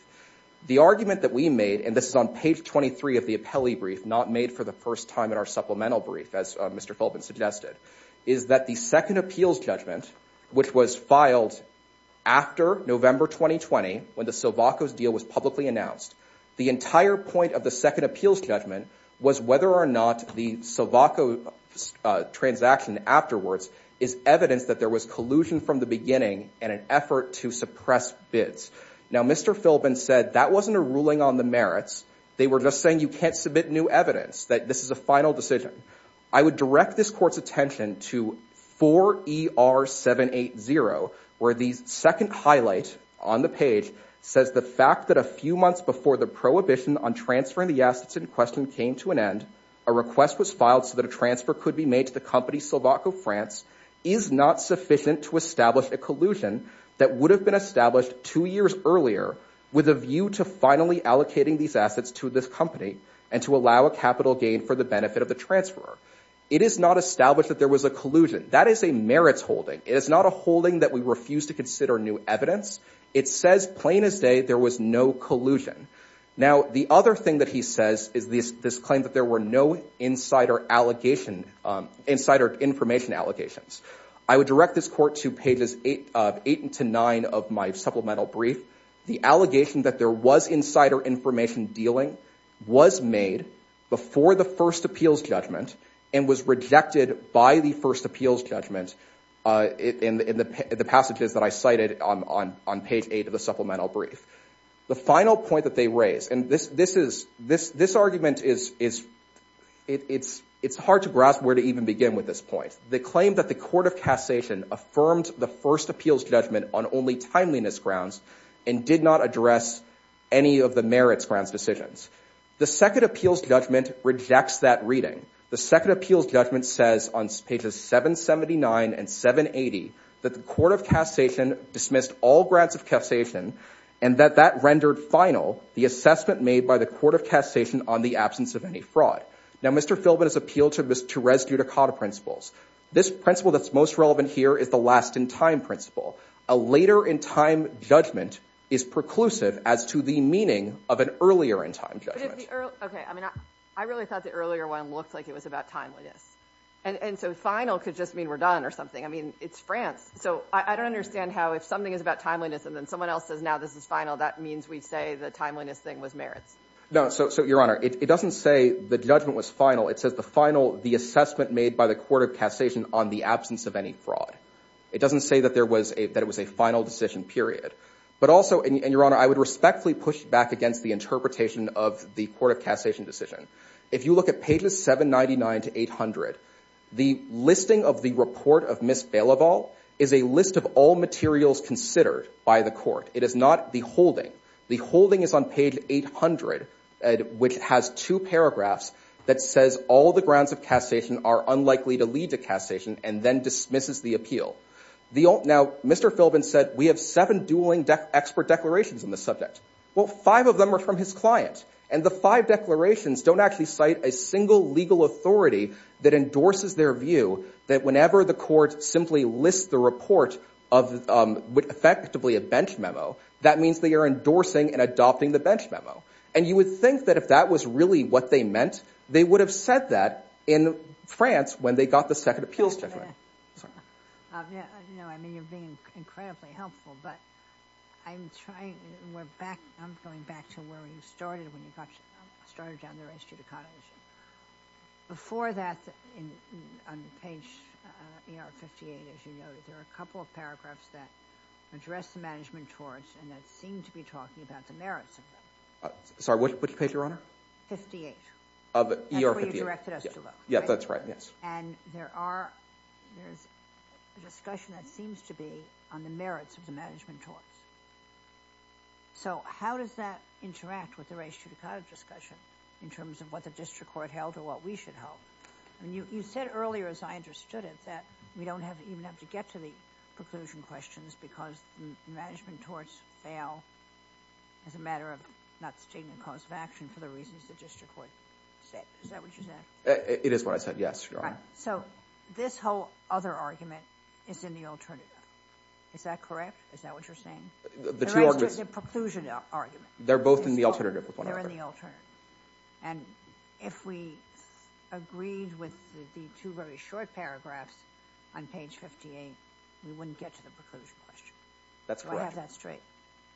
The argument that we made, and this is on page 23 of the appellee brief, not made for the first time in our supplemental brief, as Mr. Philbin suggested, is that the second appeals judgment, which was filed after November 2020, when the Sovacos deal was publicly announced, the entire point of the second appeals judgment was whether or not the Sovacos transaction afterwards is evidence that there was collusion from the beginning and an effort to suppress bids. Now, Mr. Philbin said that wasn't a ruling on the merits. They were just saying you can't submit new evidence, that this is a final decision. I would direct this Court's attention to 4ER780, where the second highlight on the page says the fact that a few months before the prohibition on transferring the assets in question came to an end, a request was filed so that a transfer could be made to the company Sovaco France is not sufficient to establish a collusion that would have been established two years earlier with a view to finally allocating these assets to this company and to allow a capital gain for the benefit of the transfer. It is not established that there was a collusion. That is a merits holding. It is not a holding that we refuse to consider new evidence. It says, plain as day, there was no collusion. Now, the other thing that he says is this claim that there were no insider information allegations. I would direct this Court to pages 8 to 9 of my supplemental brief. The allegation that there was insider information dealing was made before the first appeals judgment and was rejected by the first appeals judgment in the passages that I cited on page 8 of the supplemental brief. The final point that they raise, and this argument is hard to grasp where to even begin with this point. They claim that the Court of Cassation affirmed the first appeals judgment on only timeliness grounds and did not address any of the merits grounds decisions. The second appeals judgment rejects that reading. The second appeals judgment says on pages 779 and 780 that the Court of Cassation dismissed all grants of cassation and that that rendered final the assessment made by the Court of Cassation on the absence of any fraud. Now, Mr. Philbin has appealed to Res Ducati principles. This principle that's most relevant here is the last-in-time principle. A later-in-time judgment is preclusive as to the meaning of an earlier-in-time judgment. Okay, I mean, I really thought the earlier one looked like it was about timeliness. And so final could just mean we're done or something. I mean, it's France. So I don't understand how if something is about timeliness and then someone else says, now this is final, that means we say the timeliness thing was merits. No, so, Your Honor, it doesn't say the judgment was final. It says the final, the assessment made by the Court of Cassation on the absence of any fraud. It doesn't say that it was a final decision, period. But also, and Your Honor, I would respectfully push back against the interpretation of the Court of Cassation decision. If you look at pages 799 to 800, the listing of the report of Ms. Bailoval is a list of all materials considered by the court. It is not the holding. The holding is on page 800, which has two paragraphs that says all the grounds of cassation are unlikely to lead to cassation and then dismisses the appeal. Now, Mr. Philbin said, we have seven dueling expert declarations on the subject. Well, five of them are from his client. And the five declarations don't actually cite a single legal authority that endorses their view that whenever the court simply lists the report of effectively a bench memo, that means they are endorsing and adopting the bench memo. And you would think that if that was really what they meant, they would have said that in France when they got the Second Appeals Declaration. No, I mean, you're being incredibly helpful. But I'm going back to where you started when you started down the race to the cottage. Before that, on page 58, as you noted, there are a couple of paragraphs that address the management torts and that Sorry, what page, Your Honor? 58. That's where you directed us to look. That's right, yes. And there's a discussion that seems to be on the merits of the management torts. So how does that interact with the race to the cottage discussion in terms of what the district court held or what we should hold? You said earlier, as I understood it, that we don't even have to get to the preclusion questions because the management torts fail as a matter of not taking the cause of action for the reasons the district court said. Is that what you said? It is what I said, yes, Your Honor. So this whole other argument is in the alternative. Is that correct? Is that what you're saying? The two arguments. The preclusion argument. They're both in the alternative with one another. They're in the alternative. And if we agreed with the two very short paragraphs on page 58, we wouldn't get to the preclusion question. That's correct. Do I have that straight?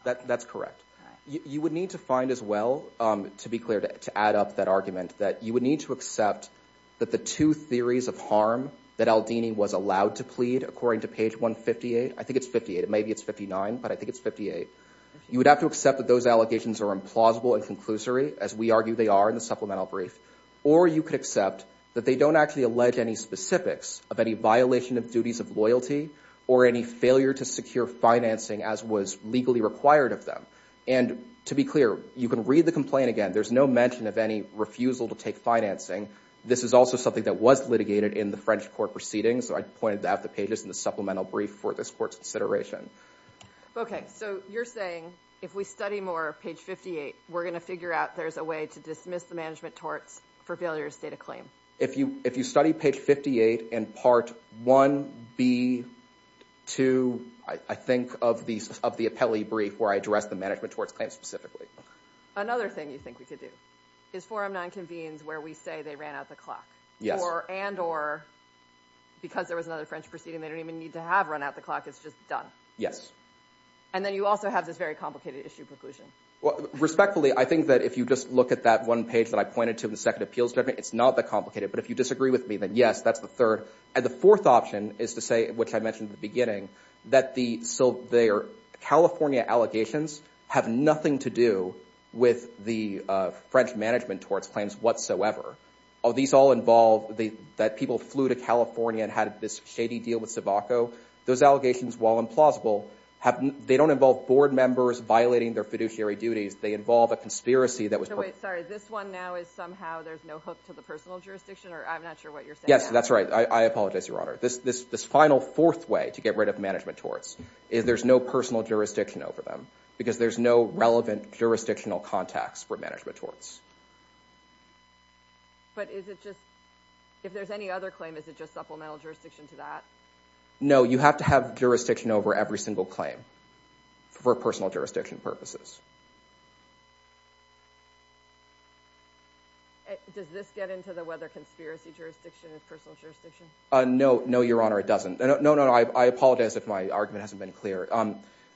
That's correct. You would need to find as well, to be clear, to add up that argument that you would need to accept that the two theories of harm that Aldini was allowed to plead according to page 158. I think it's 58. Maybe it's 59, but I think it's 58. You would have to accept that those allegations are implausible and conclusory, as we argue they are in the supplemental brief. Or you could accept that they don't actually allege any specifics of any violation of duties of loyalty or any failure to secure financing as was legally required of them. And to be clear, you can read the complaint again. There's no mention of any refusal to take financing. This is also something that was litigated in the French court proceedings. So I pointed out the pages in the supplemental brief for this court's consideration. OK. So you're saying if we study more page 58, we're going to figure out there's a way to dismiss the management torts for failure to state a claim. If you study page 58 in part 1B2, I think, of the appellee brief where I address the management torts claim specifically. Another thing you think we could do is 4M9 convenes where we say they ran out the clock. Yes. And or because there was another French proceeding, they don't even need to have run out the clock. It's just done. Yes. And then you also have this very complicated issue preclusion. Respectfully, I think that if you just look at that one page that I pointed to in the second appeals judgment, it's not that complicated. But if you disagree with me, then yes, that's the third. And the fourth option is to say, which I mentioned in the beginning, that the California allegations have nothing to do with the French management torts claims whatsoever. These all involve that people flew to California and had this shady deal with Sivaco. Those allegations, while implausible, they don't involve board members violating their fiduciary duties. They involve a conspiracy that was perpetrated. No, wait, sorry. This one now is somehow there's no hook to the personal jurisdiction? Or I'm not sure what you're saying. Yes, that's right. I apologize, Your Honor. This final fourth way to get rid of management torts is there's no personal jurisdiction over them because there's no relevant jurisdictional context for management torts. But if there's any other claim, is it just supplemental jurisdiction to that? No, you have to have jurisdiction over every single claim for personal jurisdiction purposes. Does this get into the whether conspiracy jurisdiction is personal jurisdiction? No. No, Your Honor, it doesn't. No, no, no. I apologize if my argument hasn't been clear.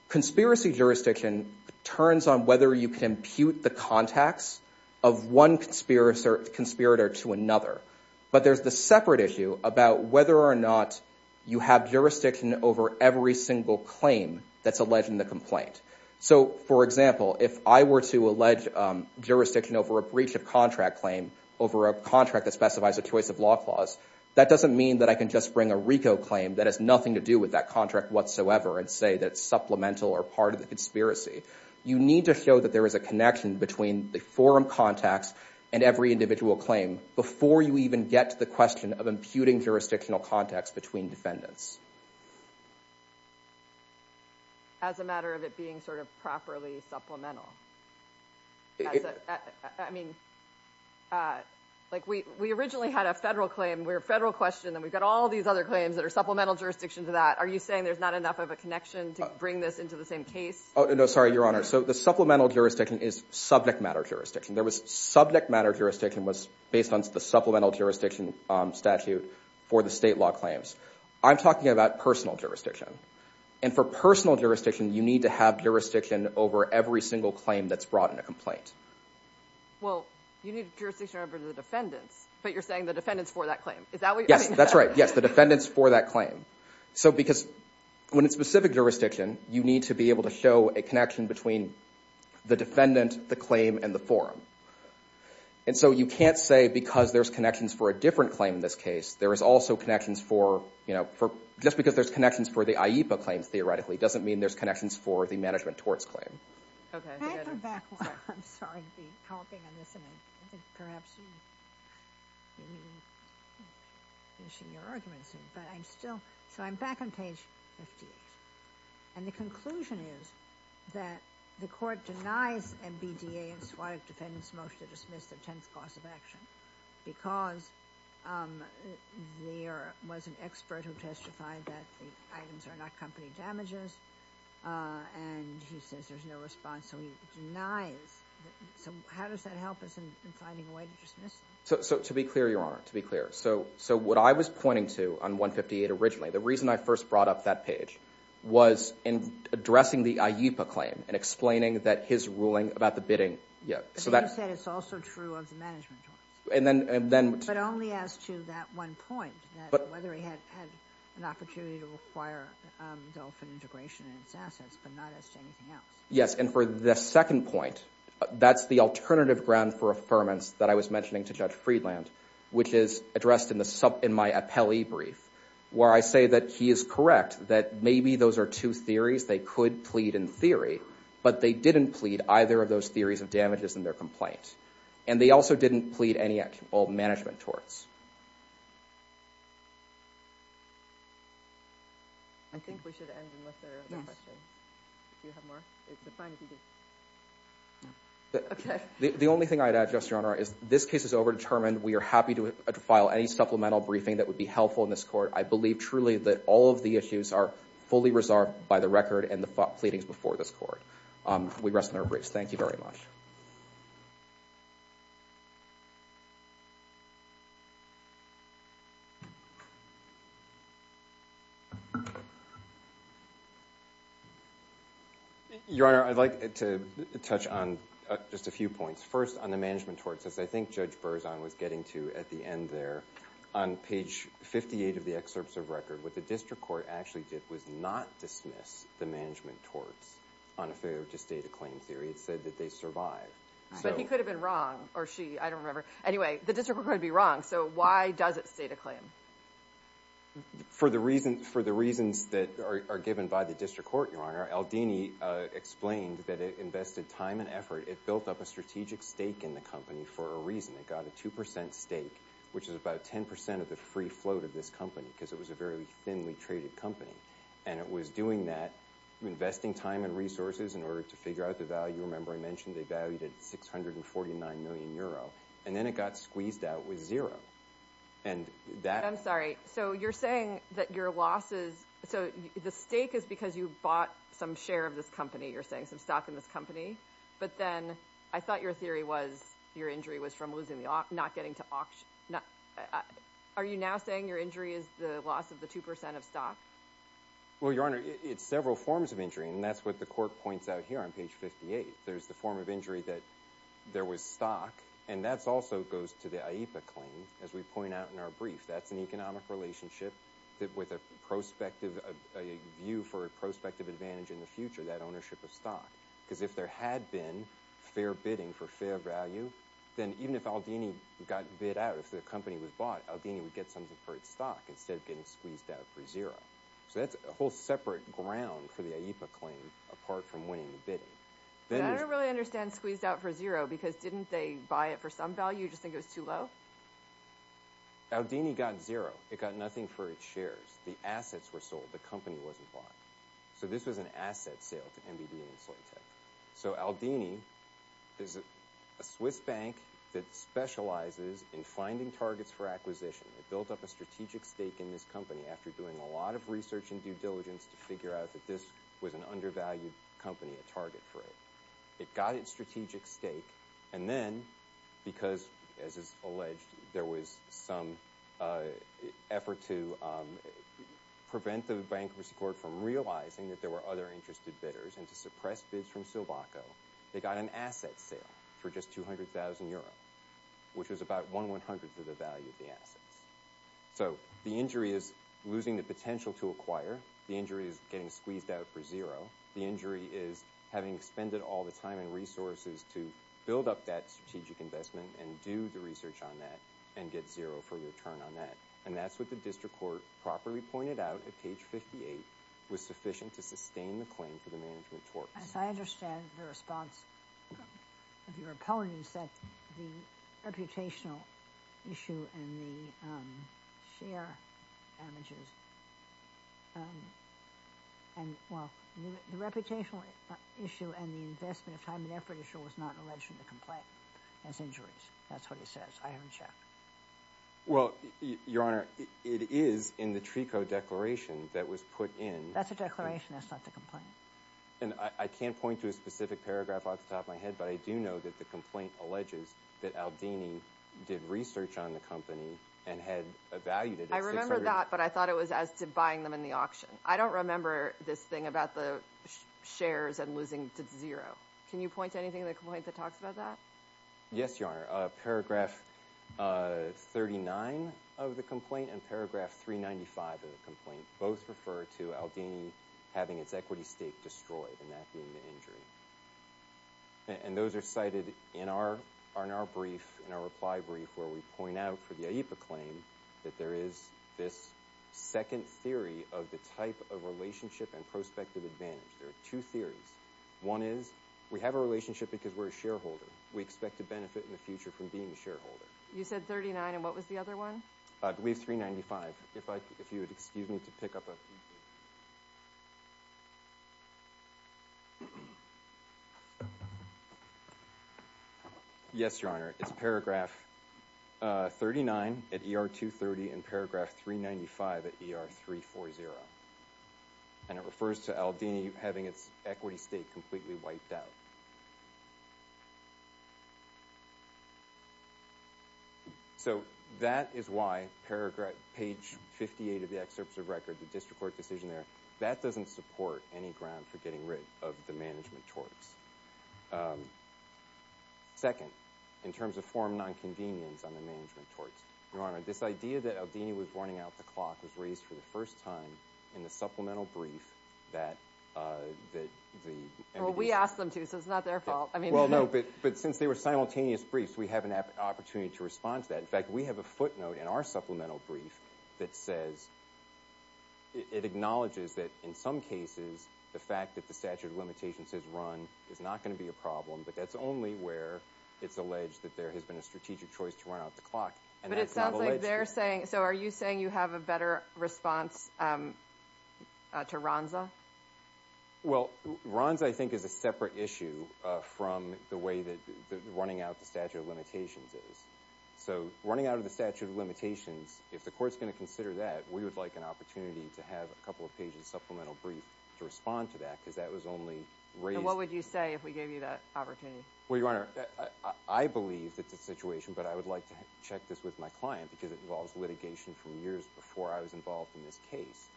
Conspiracy jurisdiction turns on whether you can impute the contacts of one conspirator to another. But there's the separate issue about whether or not you have jurisdiction over every single claim that's alleged in the complaint. So for example, if I were to allege jurisdiction over a breach of contract claim over a contract that specifies a choice of law clause, that doesn't mean that I can just bring a RICO claim that has nothing to do with that contract whatsoever and say that it's supplemental or part of the conspiracy. You need to show that there is a connection between the forum contacts and every individual claim before you even get to the question of imputing jurisdictional context between defendants. As a matter of it being sort of properly supplemental. I mean, like we originally had a federal claim. We're a federal question, and we've got all these other claims that are supplemental jurisdiction to that. Are you saying there's not enough of a connection to bring this into the same case? Oh, no, sorry, Your Honor. So the supplemental jurisdiction is subject matter jurisdiction. There was subject matter jurisdiction was based on the supplemental jurisdiction statute for the state law claims. I'm talking about personal jurisdiction. And for personal jurisdiction, you need to have jurisdiction over every single claim that's brought in a complaint. Well, you need jurisdiction over the defendants, but you're saying the defendants for that claim. Is that what you're saying? Yes, that's right. Yes, the defendants for that claim. So because when it's specific jurisdiction, you need to be able to show a connection between the defendant, the claim, and the forum. And so you can't say because there's connections for a different claim in this case, there is also connections for, just because there's connections for the IEPA claim theoretically doesn't mean there's connections for the management torts claim. Can I come back? I'm sorry. I'll be commenting on this. And I think perhaps you'll be finishing your arguments soon. But I'm still. So I'm back on page 58. And the conclusion is that the court denies MBDA and swatic defendants' motion to dismiss the 10th class of action because there was an expert who testified that the items are not company damages. And he says there's no response. So he denies. So how does that help us in finding a way to dismiss them? So to be clear, Your Honor, to be clear. So what I was pointing to on 158 originally, the reason I first brought up that page, was in addressing the IEPA claim and explaining that his ruling about the bidding. But then you said it's also true of the management torts. But only as to that one point, whether he had an opportunity to require dolphin integration in its assets, but not as to anything else. Yes. And for the second point, that's the alternative ground for affirmance that I was mentioning to Judge Friedland, which is addressed in my appellee brief, where I say that he is correct that maybe those are two theories. They could plead in theory. But they didn't plead either of those theories of damages in their complaint. And they also didn't plead any actual management torts. I think we should end unless there are other questions. Do you have more? It's a fine evening. OK. The only thing I'd add, Justice, Your Honor, is this case is overdetermined. We are happy to file any supplemental briefing that would be helpful in this court. I believe truly that all of the issues are fully reserved by the record and the pleadings before this court. We rest on our briefs. Thank you very much. Your Honor, I'd like to touch on just a few points. First, on the management torts, as I think Judge Berzon was getting to at the end there. On page 58 of the excerpts of record, what the district court actually did was not dismiss the management torts on a failure to state a claim theory. It said that they survive. But he could have been wrong. Or she. I don't remember. Anyway, the district court could be wrong. So why does it state a claim? For the reasons that are given by the district court, Your Honor, Aldini explained that it invested time and effort. It built up a strategic stake in the company for a reason. It got a 2% stake, which is about 10% of the free float of this company, because it was a very thinly traded company. And it was doing that, investing time and resources in order to figure out the value. Remember I mentioned they valued at 649 million euro. And then it got squeezed out with zero. I'm sorry. So you're saying that your losses. So the stake is because you bought some share of this company. You're saying some stock in this company. But then I thought your theory was your injury was from losing the auction, not getting to auction. Are you now saying your injury is the loss of the 2% of stock? Well, Your Honor, it's several forms of injury. And that's what the court points out here on page 58. There's the form of injury that there was stock. And that also goes to the IEPA claim, as we point out in our brief. That's an economic relationship with a view for a prospective advantage in the future, that ownership of stock. Because if there had been fair bidding for fair value, then even if Aldini got bid out, if the company was bought, Aldini would get something for its stock instead of getting squeezed out for zero. So that's a whole separate ground for the IEPA claim apart from winning the bidding. And I don't really understand squeezed out for zero because didn't they buy it for some value, just think it was too low? Aldini got zero. It got nothing for its shares. The assets were sold. The company wasn't bought. So this was an asset sale to NBD and Insulatech. So Aldini is a Swiss bank that specializes in finding targets for acquisition. It built up a strategic stake in this company after doing a lot of research and due diligence to figure out that this was an undervalued company, a target for it. It got its strategic stake. And then because, as is alleged, there was some effort to prevent the bankruptcy court from realizing that there were other interested bidders and to suppress bids from Silvaco, they got an asset sale for just 200,000 euro, which was about one one-hundredth of the value of the assets. So the injury is losing the potential to acquire. The injury is getting squeezed out for zero. The injury is having to spend all the time and resources to build up that strategic investment and do the research on that and get zero for the return on that. And that's what the district court properly pointed out at page 58, was sufficient to sustain the claim for the management torque. I understand the response of your opponents that the reputational issue and the share damages and, well, the reputational issue and the investment of time and effort issue was not alleged in the complaint as injuries. That's what it says. I haven't checked. Well, Your Honor, it is in the TRECO declaration that was put in. That's a declaration. That's not the complaint. And I can't point to a specific paragraph off the top of my head, but I do know that the complaint alleges that Aldini did research on the company and had evaluated it. I remember that, but I thought it was as to buying them in the auction. I don't remember this thing about the shares and losing to zero. Can you point to anything in the complaint that talks about that? Yes, Your Honor. Paragraph 39 of the complaint and paragraph 395 of the complaint both refer to Aldini having its equity stake destroyed, and that being the injury. And those are cited in our brief, in our reply brief, where we point out for the AIPA claim that there is this second theory of the type of relationship and prospective advantage. There are two theories. One is we have a relationship because we're a shareholder. We expect to benefit in the future from being a shareholder. You said 39, and what was the other one? I believe 395. If you would excuse me to pick up a... Yes, Your Honor. It's paragraph 39 at ER 230 and paragraph 395 at ER 340, and it refers to Aldini having its equity stake completely wiped out. So that is why page 58 of the excerpt of the record, the district court decision there, that doesn't support any ground for getting rid of the management torts. Second, in terms of forum nonconvenience on the management torts, Your Honor, this idea that Aldini was running out the clock was raised for the first time in the supplemental brief that the... Well, we asked them to, so it's not their fault. Well, no, but since they were simultaneous briefs, we have an opportunity to respond to that. In fact, we have a footnote in our supplemental brief that says it acknowledges that in some cases the fact that the statute of limitations has run is not going to be a problem, but that's only where it's alleged that there has been a strategic choice to run out the clock, and that's not alleged. But it sounds like they're saying... So are you saying you have a better response to Ronza? Well, Ronza, I think, is a separate issue from the way that running out the statute of limitations is. So running out of the statute of limitations, if the court's going to consider that, we would like an opportunity to have a couple of pages of supplemental brief to respond to that because that was only raised... And what would you say if we gave you that opportunity? Well, Your Honor, I believe that the situation, but I would like to check this with my client because it involves litigation from years before I was involved in this case,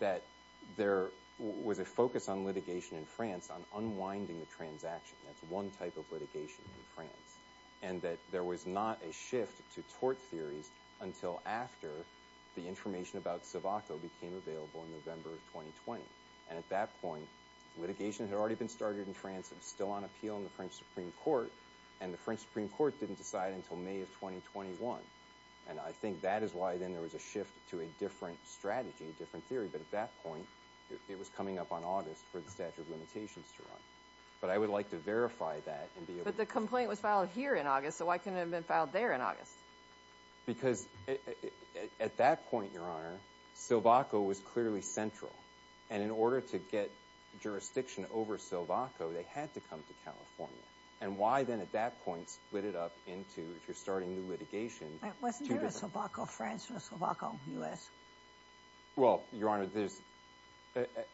that there was a focus on litigation in France on unwinding the transaction. That's one type of litigation in France. And that there was not a shift to tort theories until after the information about Sivaco became available in November of 2020. And at that point, litigation had already been started in France and was still on appeal in the French Supreme Court, and the French Supreme Court didn't decide until May of 2021. And I think that is why then there was a shift to a different strategy, a different theory, but at that point, it was coming up on August for the statute of limitations to run. But I would like to verify that and be able to... But the complaint was filed here in August, so why couldn't it have been filed there in August? Because at that point, Your Honor, Sivaco was clearly central. And in order to get jurisdiction over Sivaco, they had to come to California. And why then at that point split it up into, if you're starting new litigation... Wasn't there a Sivaco France or a Sivaco U.S.? Well, Your Honor,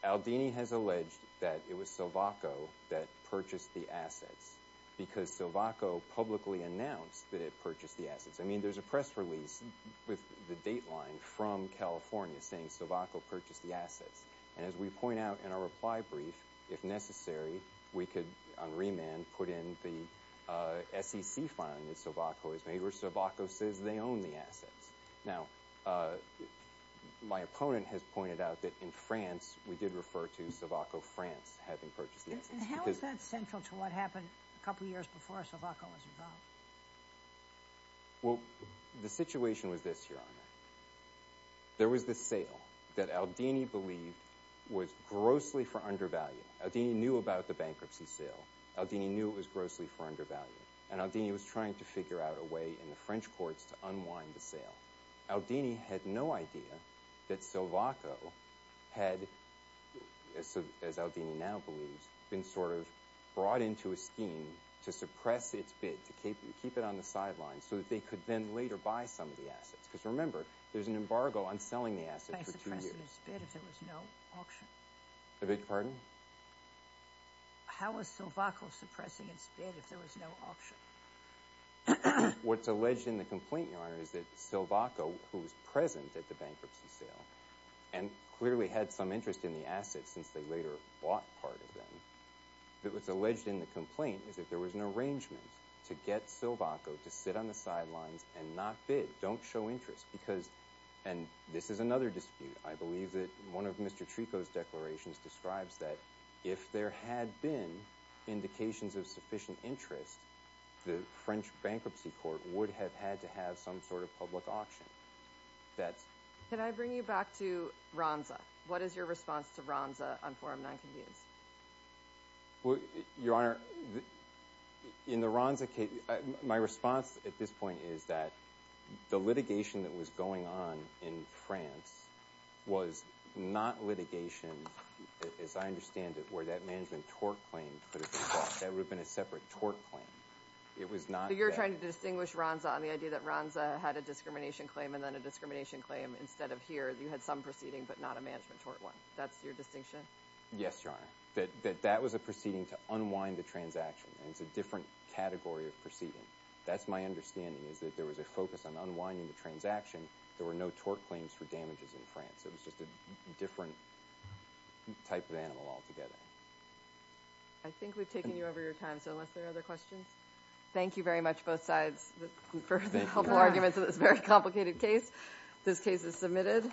Aldini has alleged that it was Sivaco that purchased the assets because Sivaco publicly announced that it purchased the assets. I mean, there's a press release with the dateline from California saying Sivaco purchased the assets. And as we point out in our reply brief, if necessary, we could, on remand, put in the SEC fine that Sivaco has made where Sivaco says they own the assets. Now, my opponent has pointed out that in France, we did refer to Sivaco France having purchased the assets. And how is that central to what happened a couple of years before Sivaco was involved? Well, the situation was this, Your Honor. There was this sale that Aldini believed was grossly for undervalue. Aldini knew about the bankruptcy sale. Aldini knew it was grossly for undervalue. And Aldini was trying to figure out a way in the French courts to unwind the sale. Aldini had no idea that Sivaco had, as Aldini now believes, been sort of brought into a scheme to suppress its bid, to keep it on the sidelines so that they could then later buy some of the assets. Because remember, there's an embargo on selling the assets for two years. By suppressing its bid if there was no auction. Pardon? How was Sivaco suppressing its bid if there was no auction? What's alleged in the complaint, Your Honor, is that Sivaco, who was present at the bankruptcy sale, and clearly had some interest in the assets since they later bought part of them, that what's alleged in the complaint is that there was an arrangement to get Sivaco to sit on the sidelines and not bid. Don't show interest. And this is another dispute. I believe that one of Mr. Trico's declarations describes that if there had been indications of sufficient interest, the French bankruptcy court would have had to have some sort of public auction. Can I bring you back to Ronza? What is your response to Ronza on Forum Nonconvenience? Your Honor, in the Ronza case, my response at this point is that the litigation that was going on in France was not litigation, as I understand it, where that management tort claim, that would have been a separate tort claim. You're trying to distinguish Ronza on the idea that Ronza had a discrimination claim and then a discrimination claim instead of here. You had some proceeding but not a management tort one. That's your distinction? Yes, Your Honor. That was a proceeding to unwind the transaction, and it's a different category of proceeding. That's my understanding, is that there was a focus on unwinding the transaction. There were no tort claims for damages in France. It was just a different type of animal altogether. I think we've taken you over your time, so unless there are other questions. Thank you very much, both sides, for the helpful arguments in this very complicated case. This case is submitted.